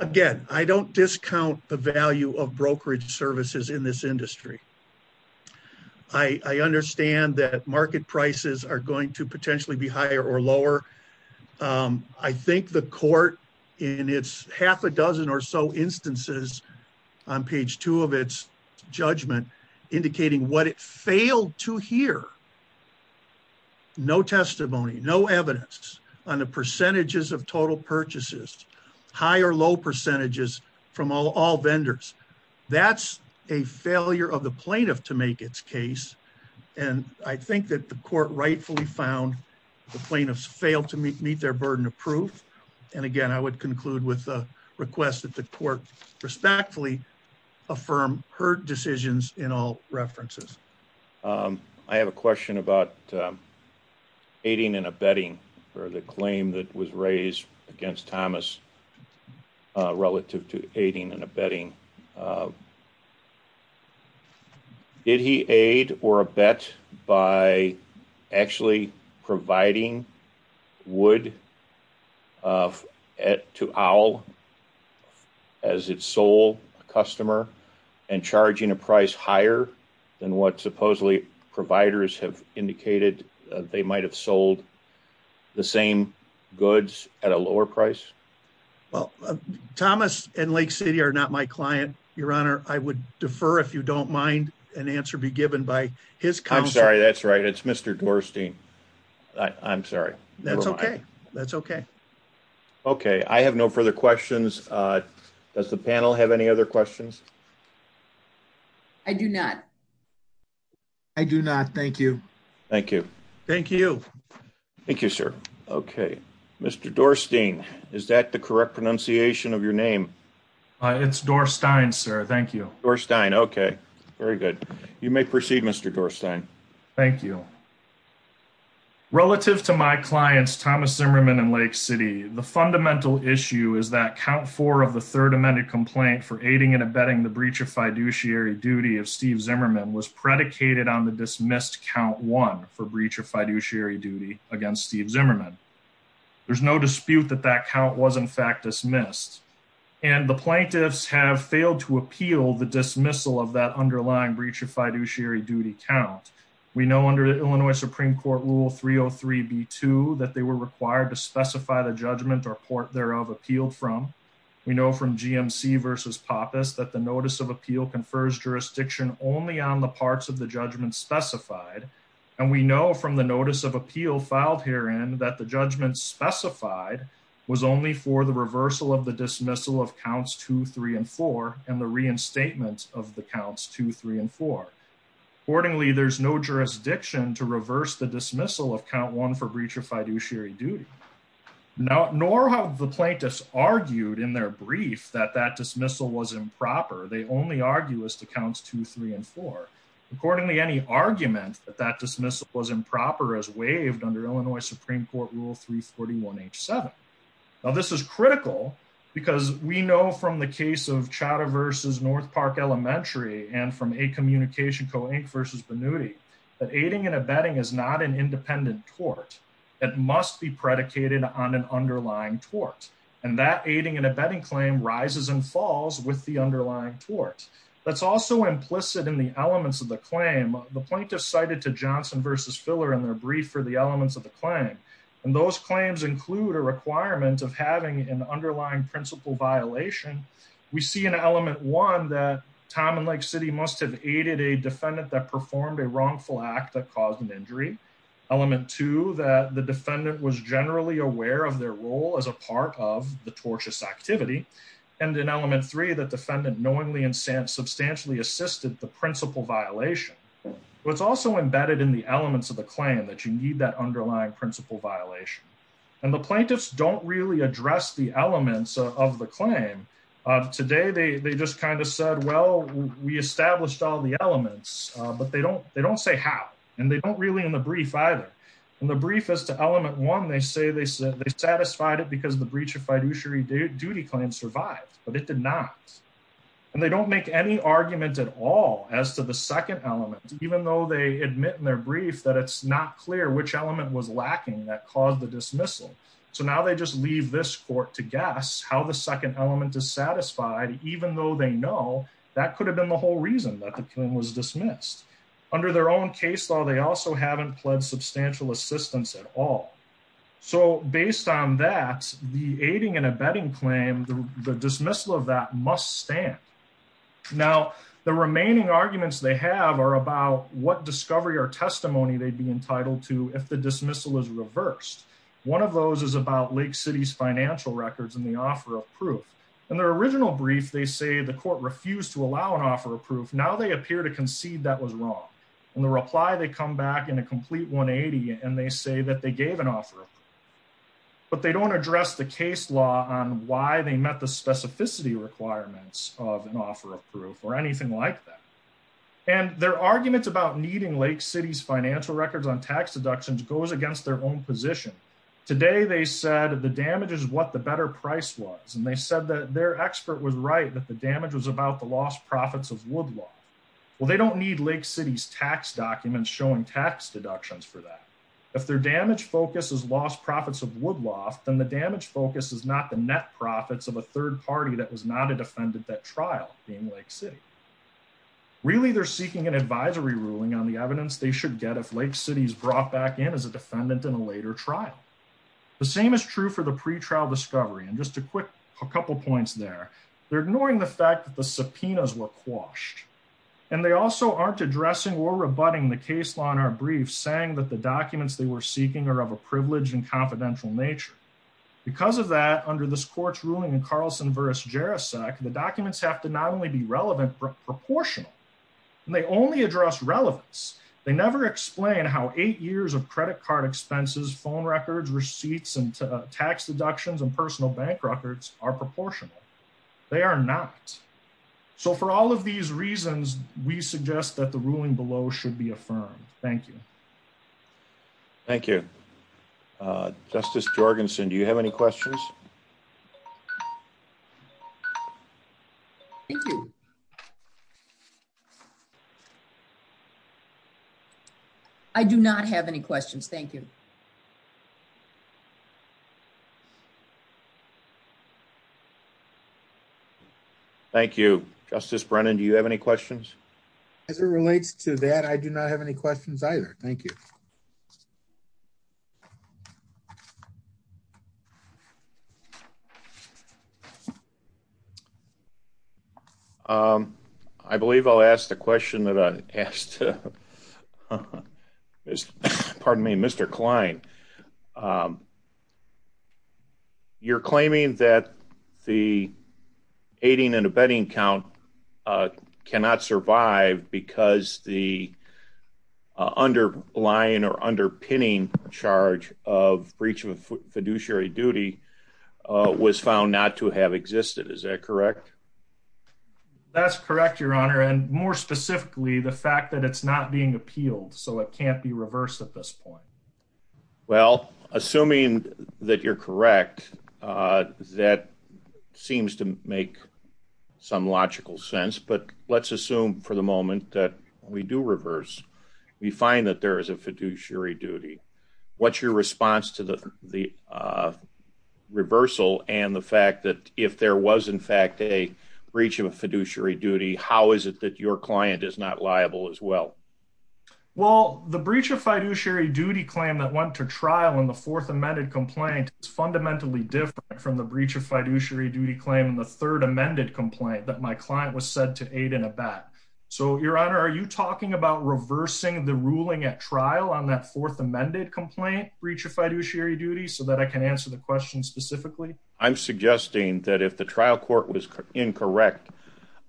Again, I don't discount the value of brokerage services in this industry. I understand that market prices are going to potentially be higher or lower. I think the court in its half a dozen or so instances on page two of its judgment indicating what it failed to hear. No testimony, no evidence on the percentages of total purchases, high or low percentages from all vendors. That's a failure of the plaintiff to make its case. And I think that the court rightfully found the plaintiffs failed to meet their burden of proof. And again, I would conclude with a request that the court respectfully affirm her decisions in all references. I have a question about aiding and abetting for the claim that was raised against Thomas relative to aiding and abetting. Did he aid or abet by actually providing wood to Owl as its sole customer and charging a price higher than what supposedly providers have indicated they might have sold the same goods at a lower price? Well, Thomas and Lake City are not my client, Your Honor. I would defer if you don't mind an answer be given by his counsel. I'm sorry. That's right. It's Mr. Dorstein. I'm sorry. That's okay. That's okay. Okay. I have no further questions. Does the panel have any other questions? I do not. I do not. Thank you. Thank you. Thank you. Thank you, sir. Okay. Mr. Dorstein, is that the correct pronunciation of your name? It's Dorstein, sir. Thank you. Dorstein. Okay. Very good. You may proceed, Mr. Dorstein. Thank you. Relative to my clients, Thomas Zimmerman and Lake City, the fundamental issue is that count four of the third amended complaint for aiding and abetting the breach of fiduciary duty of Steve Zimmerman was predicated on the dismissed count one for breach of fiduciary duty against Steve Zimmerman. There's no dispute that that count was, in fact, dismissed. And the plaintiffs have failed to appeal the dismissal of that underlying breach of fiduciary duty count. We know under Illinois Supreme Court Rule 303B2 that they were required to specify the judgment or court thereof appeal from. We know from GMC versus Pappas that the notice of appeal confers jurisdiction only on the parts of the judgment specified. And we know from the notice of appeal filed herein that the judgment specified was only for the reversal of the Accordingly, there's no jurisdiction to reverse the dismissal of count one for breach of fiduciary duty. Nor have the plaintiffs argued in their brief that that dismissal was improper. They only argue as to counts two, three, and four. Accordingly, any argument that that dismissal was improper is waived under Illinois Supreme Court Rule 341H7. Now, this is critical because we know from the case of Chadha versus North Park Elementary and from A Communication Co. Inc. versus Vannuti that aiding and abetting is not an independent court. It must be predicated on an underlying court. And that aiding and abetting claim rises and falls with the underlying court. That's also implicit in the elements of the claim. The plaintiffs cited to Johnson versus Filler in their brief for the elements of the claim. And those claims include a requirement of an underlying principle violation. We see in element one that Tom and Lake City must have aided a defendant that performed a wrongful act that caused an injury. Element two, that the defendant was generally aware of their role as a part of the tortious activity. And in element three, the defendant knowingly and substantially assisted the principle violation. It's also embedded in the elements of the claim that you need that underlying principle violation. And the plaintiffs don't really address the elements of the claim. Today, they just kind of said, well, we established all the elements. But they don't say how. And they don't really in the brief either. In the brief as to element one, they say they satisfied it because the breach of fiduciary duty claim survived. But it did not. And they don't make any argument at all as to the second element, even though they admit in their brief that it's not clear which element was dismissed. So now they just leave this court to guess how the second element is satisfied, even though they know that could have been the whole reason that the claim was dismissed. Under their own case law, they also haven't pled substantial assistance at all. So based on that, the aiding and abetting claim, the dismissal of that must stand. Now, the remaining arguments they have are about what discovery or testimony they'd be entitled to if the dismissal is reversed. One of those is about Lake City's financial records and the offer of proof. In their original brief, they say the court refused to allow an offer of proof. Now they appear to concede that was wrong. In the reply, they come back in a complete 180, and they say that they gave an offer of proof. But they don't address the case law on why they met the specificity requirements of an offer of proof or anything like that. And their arguments about needing Lake City's records on tax deductions goes against their own position. Today they said the damage is what the better price was. And they said that their expert was right, that the damage was about the lost profits of Woodloft. Well, they don't need Lake City's tax documents showing tax deductions for that. If their damage focus is lost profits of Woodloft, then the damage focus is not the net profits of a third party that was not a defendant at trial in Lake City. Really, they're seeking an if Lake City's brought back in as a defendant in a later trial. The same is true for the pre-trial discovery. And just a quick couple points there. They're ignoring the fact that the subpoenas were quashed. And they also aren't addressing or rebutting the case law in our briefs saying that the documents they were seeking are of a privileged and confidential nature. Because of that, under this court's ruling in Carlson v. Jarasek, the documents have to not only be relevant but proportional. And they only address relevance. They never explain how eight years of credit card expenses, phone records, receipts, and tax deductions and personal bank records are proportional. They are not. So for all of these reasons, we suggest that the ruling below should be affirmed. Thank you. Thank you. Justice Jorgenson, do you have any questions? Thank you. I do not have any questions. Thank you. Thank you. Justice Brennan, do you have any questions? As it relates to that, I do not have any questions either. Thank you. I believe I'll ask the question that I asked. Pardon me, Mr. Klein. You're claiming that the aiding and abetting count cannot survive because the underlying or underpinning charge of breach of fiduciary duty was found not to have existed. Is that correct? That's correct, Your Honor. And more specifically, the fact that it's not being appealed, so it can't be reversed at this point. Well, assuming that you're correct, that seems to make some logical sense. But let's assume for the moment that when we do reverse, we find that there is a fiduciary duty. What's your response to the reversal and the fact that if there was in fact a breach of a fiduciary duty, how is it that your client is not liable as well? Well, the breach of fiduciary duty claim that went to trial in the fourth amended complaint is fundamentally different from the breach of fiduciary duty claim in the third amended complaint that my client was said to aid and abet. So, Your Honor, are you talking about reversing the ruling at trial on that fourth amended complaint breach of fiduciary duty so that I can answer the question specifically? I'm suggesting that if the trial court was incorrect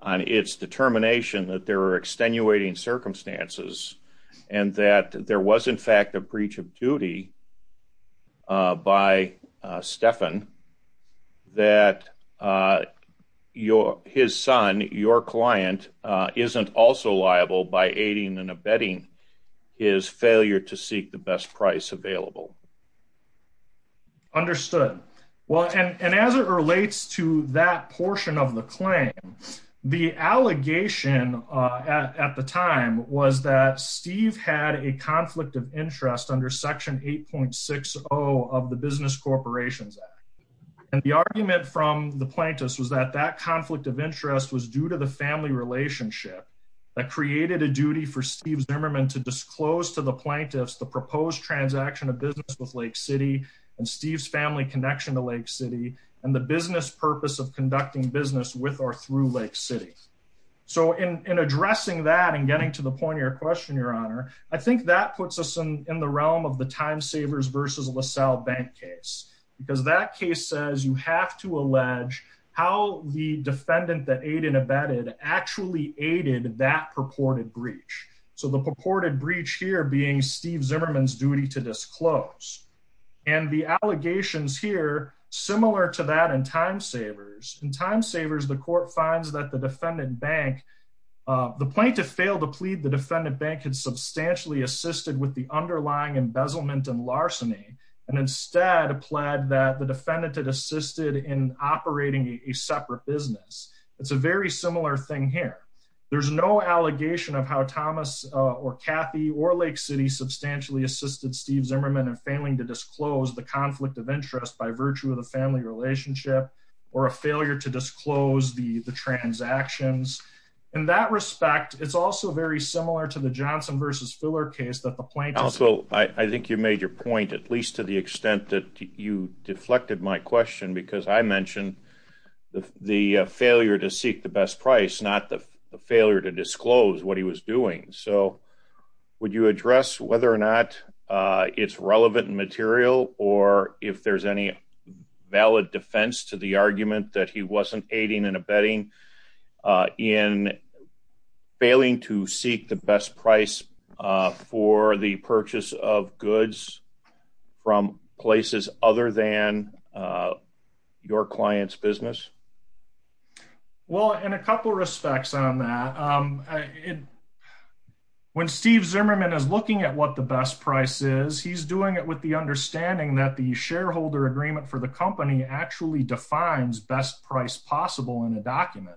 on its determination that there are extenuating circumstances and that there was in fact a breach of duty by Stephan, that his son, your client, isn't also liable by aiding and abetting his failure to seek the best price available. Understood. Well, and as it relates to that portion of the claim, the allegation at the time was that Steve had a conflict of interest under section 8.60 of the Business Corporations Act. And the argument from the plaintiffs was that that conflict of interest was due to the family relationship that created a duty for Steve Zimmerman to disclose to the plaintiffs the proposed transaction of business with Lake City and Steve's family connection to Lake City and the business purpose of conducting business with or through Lake City. So, in addressing that and getting to the point of your question, Your Honor, I think that puts us in the realm of the Time Savers versus LaSalle Bank case. Because that case says you have to allege how the defendant that aided and abetted actually aided that purported breach. So, the purported breach here being Steve Zimmerman's duty to disclose. And the allegations here, similar to that in Time Savers. In Time Savers, the court finds that the defendant bank, the plaintiff failed to plead the defendant bank had substantially assisted with the underlying embezzlement and larceny and instead pled that the defendant had assisted in operating a separate business. It's a very similar thing here. There's no allegation of how Thomas or Kathy or Lake City substantially assisted Steve Zimmerman in failing to disclose the conflict of interest by virtue of the family relationship or a failure to disclose the transactions. In that respect, it's also very similar to the Johnson versus Filler case that the plaintiff... Also, I think you made your point, at least to the extent that you deflected my question. Because I mentioned the failure to seek the best price, not the Would you address whether or not it's relevant material or if there's any valid defense to the argument that he wasn't aiding and abetting in failing to seek the best price for the purchase of goods from places other than your client's business? Well, in a couple respects on that, when Steve Zimmerman is looking at what the best price is, he's doing it with the understanding that the shareholder agreement for the company actually defines best price possible in a document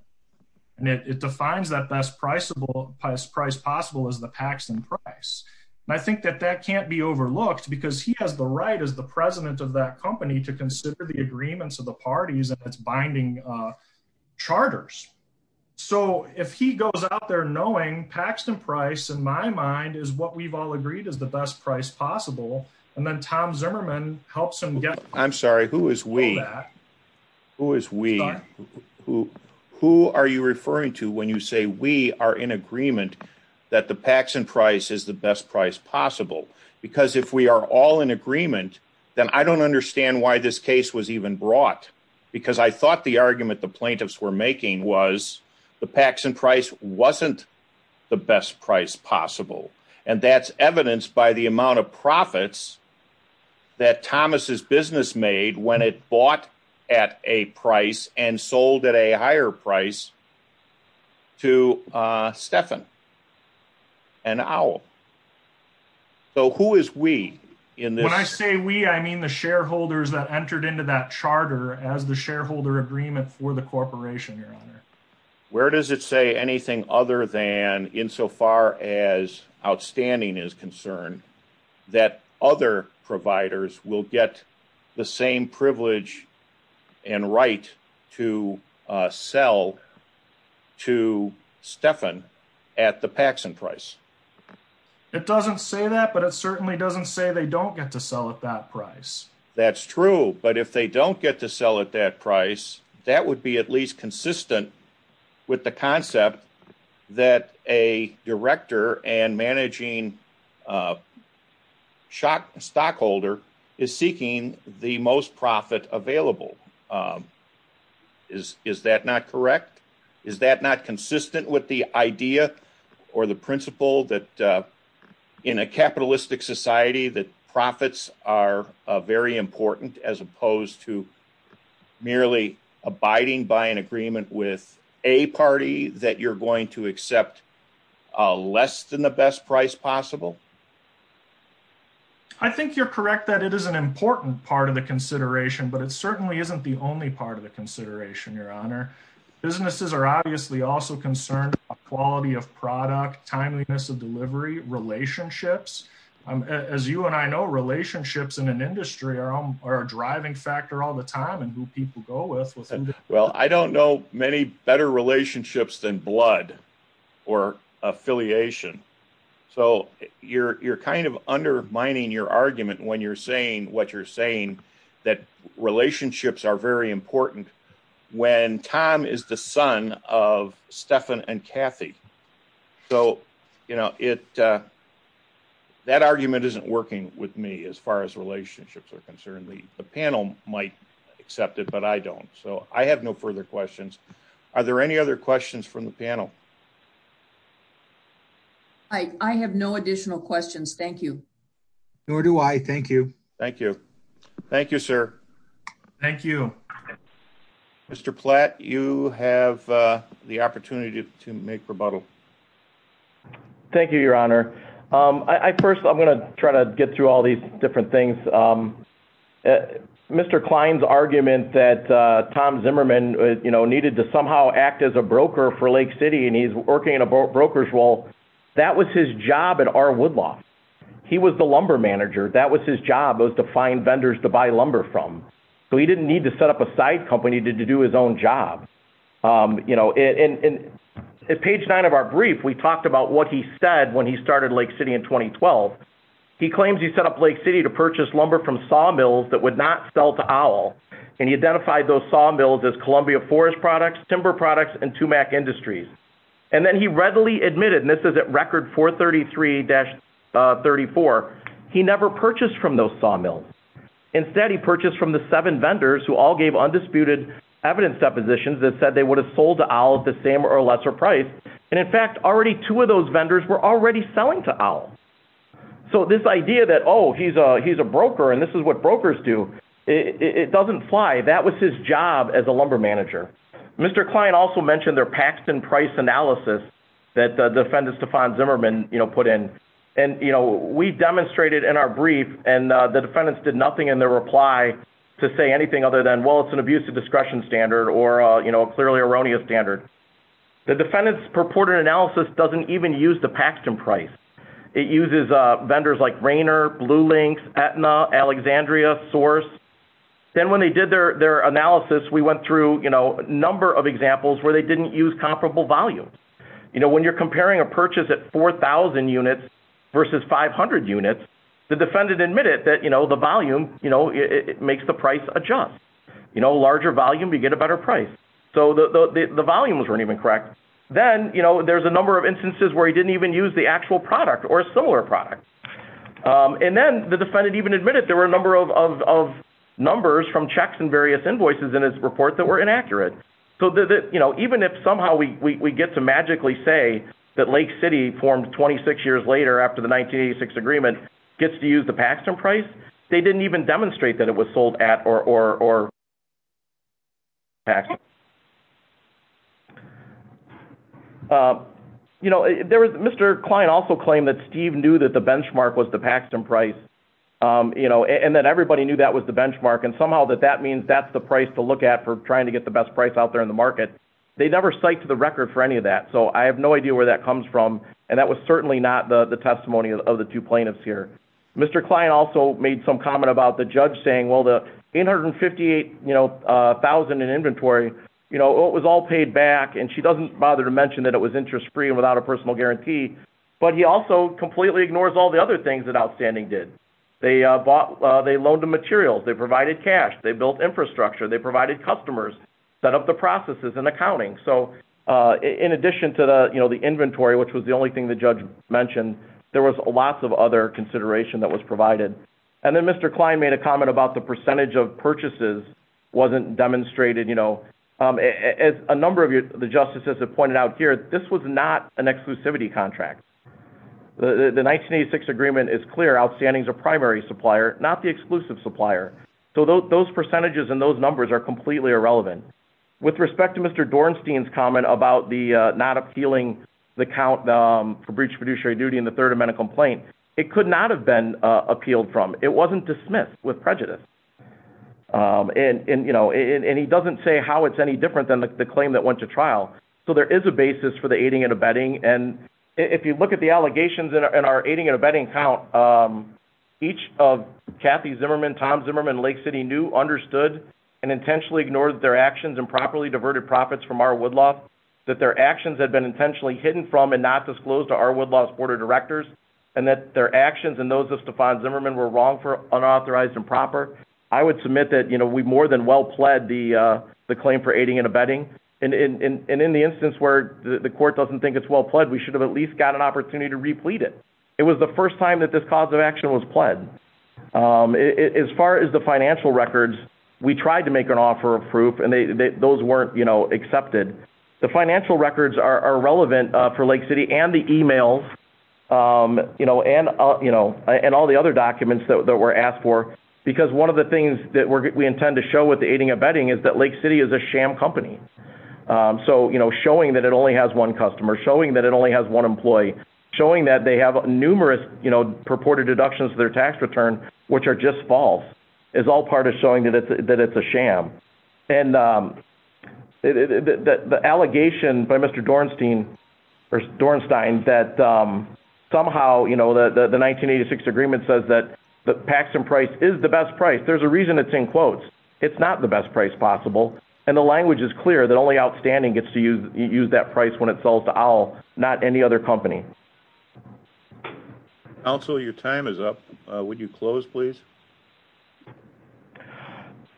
and it defines that best price possible as the Paxton price. I think that that can't be overlooked because he has the right as the president of that company to consider the knowing Paxton price in my mind is what we've all agreed is the best price possible. And then Tom Zimmerman helps him get... I'm sorry, who is we? Who is we? Who are you referring to when you say we are in agreement that the Paxton price is the best price possible? Because if we are all in agreement, then I don't understand why this case was even brought. Because I thought the best price possible and that's evidenced by the amount of profits that Thomas's business made when it bought at a price and sold at a higher price to Stephan and Owl. So who is we in this? When I say we, I mean the shareholders that entered into that charter as the shareholder agreement for the corporation. Where does it say anything other than insofar as outstanding is concerned that other providers will get the same privilege and right to sell to Stephan at the Paxton price? It doesn't say that, but it certainly doesn't say they don't get to sell at that price. That's true, but if they don't get to sell at that price, that would be at least consistent with the concept that a director and managing stockholder is seeking the most profit available. Is that not correct? Is that not consistent with the idea or the principle that in a capitalistic society that profits are very important as opposed to merely abiding by an agreement with a party that you're going to accept less than the best price possible? I think you're correct that it is an important part of the consideration, but it certainly isn't the only part of the consideration, your honor. Businesses are obviously also concerned about quality of product, timeliness of delivery, relationships. As you and I know, relationships in an industry are a driving factor all the time and who people go with. Well, I don't know many better relationships than blood or affiliation, so you're kind of undermining your argument when you're saying what you're saying that relationships are very important. When Tom is the son of Kathy, that argument isn't working with me as far as relationships are concerned. The panel might accept it, but I don't, so I have no further questions. Are there any other questions from the panel? I have no additional questions. Thank you. Nor do I. Thank you. Thank you. Thank you, sir. Thank you. Mr. Platt, you have the opportunity to make rebuttal. Thank you, your honor. First, I'm going to try to get through all these different things. Mr. Klein's argument that Tom Zimmerman needed to somehow act as a broker for Lake City and he's working in a broker's role, that was his job at R. Woodlaw. He was the lumber manager. That was to find vendors to buy lumber from, so he didn't need to set up a side company to do his own job. At page nine of our brief, we talked about what he said when he started Lake City in 2012. He claims he set up Lake City to purchase lumber from sawmills that would not sell to OWL, and he identified those sawmills as Columbia Forest products, timber products, and Tumac sawmills. Instead, he purchased from the seven vendors who all gave undisputed evidence depositions that said they would have sold to OWL at the same or lesser price, and in fact, already two of those vendors were already selling to OWL. So this idea that, oh, he's a broker and this is what brokers do, it doesn't fly. That was his job as a lumber manager. Mr. Klein also mentioned their Paxton price analysis that Defendant Stefan Zimmerman put in, and we demonstrated in our brief, and the defendants did nothing in their reply to say anything other than, well, it's an abusive discretion standard or a clearly erroneous standard. The defendant's purported analysis doesn't even use the Paxton price. It uses vendors like Rainer, Bluelink, Aetna, Alexandria, Source. Then when they did their analysis, we went through a number of examples where they didn't use comparable volumes. When you're comparing a purchase at 4,000 units versus 500 units, the defendant admitted that the volume makes the price adjust. Larger volume, you get a better price. So the volumes weren't even correct. Then there's a number of instances where he didn't even use the actual product or a similar product. And then the defendant even admitted there were a number of numbers from checks and various invoices in his report that were inaccurate. So even if somehow we get to magically say that Lake City formed 26 years later after the 1986 agreement gets to use the Paxton price, they didn't even demonstrate that it was sold at or Paxton. Mr. Klein also claimed that Steve knew that the benchmark was the Paxton price, and that everybody knew that was the benchmark, and somehow that that means that's for trying to get the best price out there in the market. They never cite to the record for any of that, so I have no idea where that comes from, and that was certainly not the testimony of the two plaintiffs here. Mr. Klein also made some comment about the judge saying, well, the $858,000 in inventory, it was all paid back, and she doesn't bother to mention that it was interest-free and without a personal guarantee, but he also completely ignores all the other things that they provided customers, set up the processes and accounting. So in addition to the inventory, which was the only thing the judge mentioned, there was lots of other consideration that was provided. And then Mr. Klein made a comment about the percentage of purchases wasn't demonstrated. As a number of the justices have pointed out here, this was not an exclusivity contract. The 1986 agreement is clear, Outstanding is a primary supplier, not the exclusive supplier. So those percentages and those numbers are completely irrelevant. With respect to Mr. Dornstein's comment about the not appealing the count for breach of fiduciary duty in the Third Amendment complaint, it could not have been appealed from. It wasn't dismissed with prejudice. And he doesn't say how it's any different than the claim that went to trial. So there is a basis for the aiding and abetting, and if you look at the allegations in our aiding and abetting count, each of Kathy Zimmerman, Tom Zimmerman, Lake City knew, understood, and intentionally ignored their actions and properly diverted profits from R. Woodlaw, that their actions had been intentionally hidden from and not disclosed to R. Woodlaw's board of directors, and that their actions and those of Stephon Zimmerman were wrong for unauthorized and proper. I would submit that we've more than well pled the claim for aiding and abetting. And in the instance where the court doesn't think it's well pled, we should have at least an opportunity to replete it. It was the first time that this cause of action was pled. As far as the financial records, we tried to make an offer of proof, and those weren't accepted. The financial records are relevant for Lake City and the emails and all the other documents that were asked for, because one of the things that we intend to show with the aiding and abetting is that Lake City is a sham company. So showing that it only has one customer, showing that it only has one employee, showing that they have numerous purported deductions to their tax return, which are just false, is all part of showing that it's a sham. And the allegation by Mr. Dornstein that somehow the 1986 agreement says that the Paxon price is the best price, there's a reason it's in quotes. It's not the best price possible, and the language is clear that only Outstanding gets to use that price when it sells to Owl, not any other company. Counselor, your time is up. Would you close, please?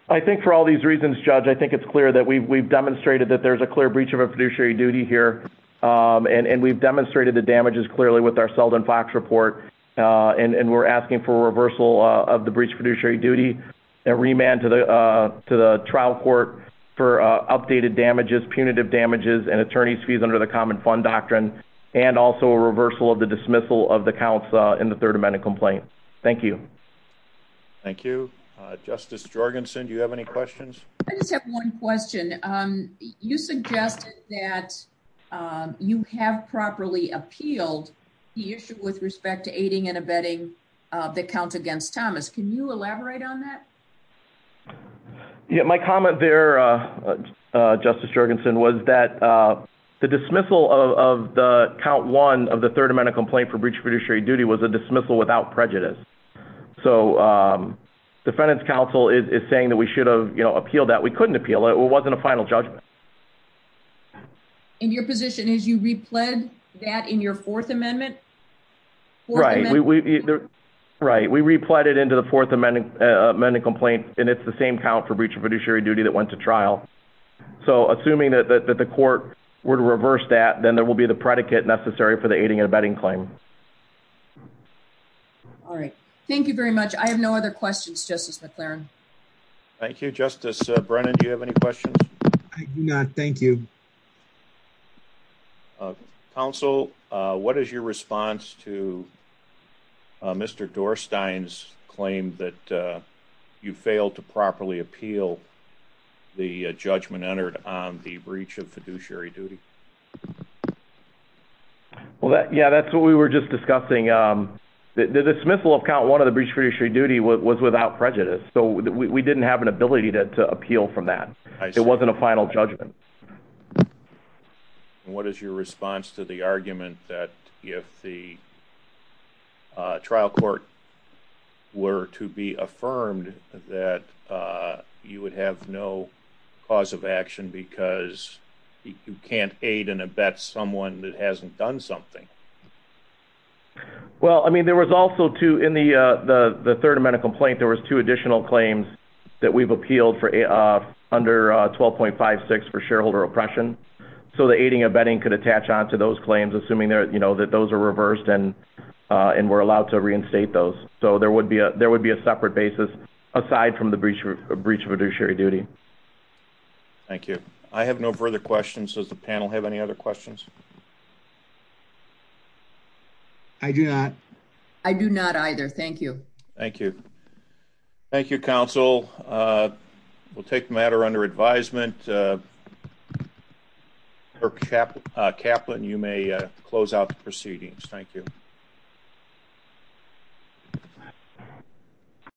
I think for all these reasons, Judge, I think it's clear that we've demonstrated that there's a clear breach of our fiduciary duty here, and we've demonstrated the damages clearly with our Selden Fox report, and we're asking for a reversal of the breach of fiduciary duty and remand to the trial court for updated damages, punitive damages, and attorney's fees under the common fund doctrine, and also a reversal of the dismissal of the counts in the third amendment complaint. Thank you. Thank you. Justice Jorgensen, do you have any questions? I just have one question. You suggested that you have properly appealed the issue with respect to that. Yeah, my comment there, Justice Jorgensen, was that the dismissal of the count one of the third amendment complaint for breach of fiduciary duty was a dismissal without prejudice. So defendant's counsel is saying that we should have appealed that. We couldn't appeal it. It wasn't a final judgment. And your position is you repled that in your fourth amendment? Right. We repled it into the fourth amendment complaint, and it's the same count for breach of fiduciary duty that went to trial. So assuming that the court would reverse that, then there will be the predicate necessary for the aiding and abetting claim. All right. Thank you very much. I have no other questions, Justice McClaren. Thank you, Justice Brennan. Do you have any questions? I do not. Thank you. Counsel, what is your response to Mr. Dorstein's claim that you failed to properly appeal the judgment entered on the breach of fiduciary duty? Well, yeah, that's what we were just discussing. The dismissal of count one of the breach of fiduciary duty was without prejudice. So we didn't have an ability to appeal from that. It wasn't a final judgment. And what is your response to the argument that if the trial court were to be affirmed that you would have no cause of action because you can't aid and abet someone that hasn't done something? Well, I mean, there was also two in the third amendment complaint, there was two additional claims that we've appealed for under 12.56 for shareholder oppression. So the aiding and abetting could attach on to those claims, assuming that those are reversed and we're allowed to reinstate those. So there would be a separate basis aside from the breach of fiduciary duty. Thank you. I have no further questions. Does the panel have any other questions? I do not. I do not either. Thank you. Thank you. Thank you, counsel. We'll take the matter under advisement. Caplan, you may close out the proceedings. Thank you.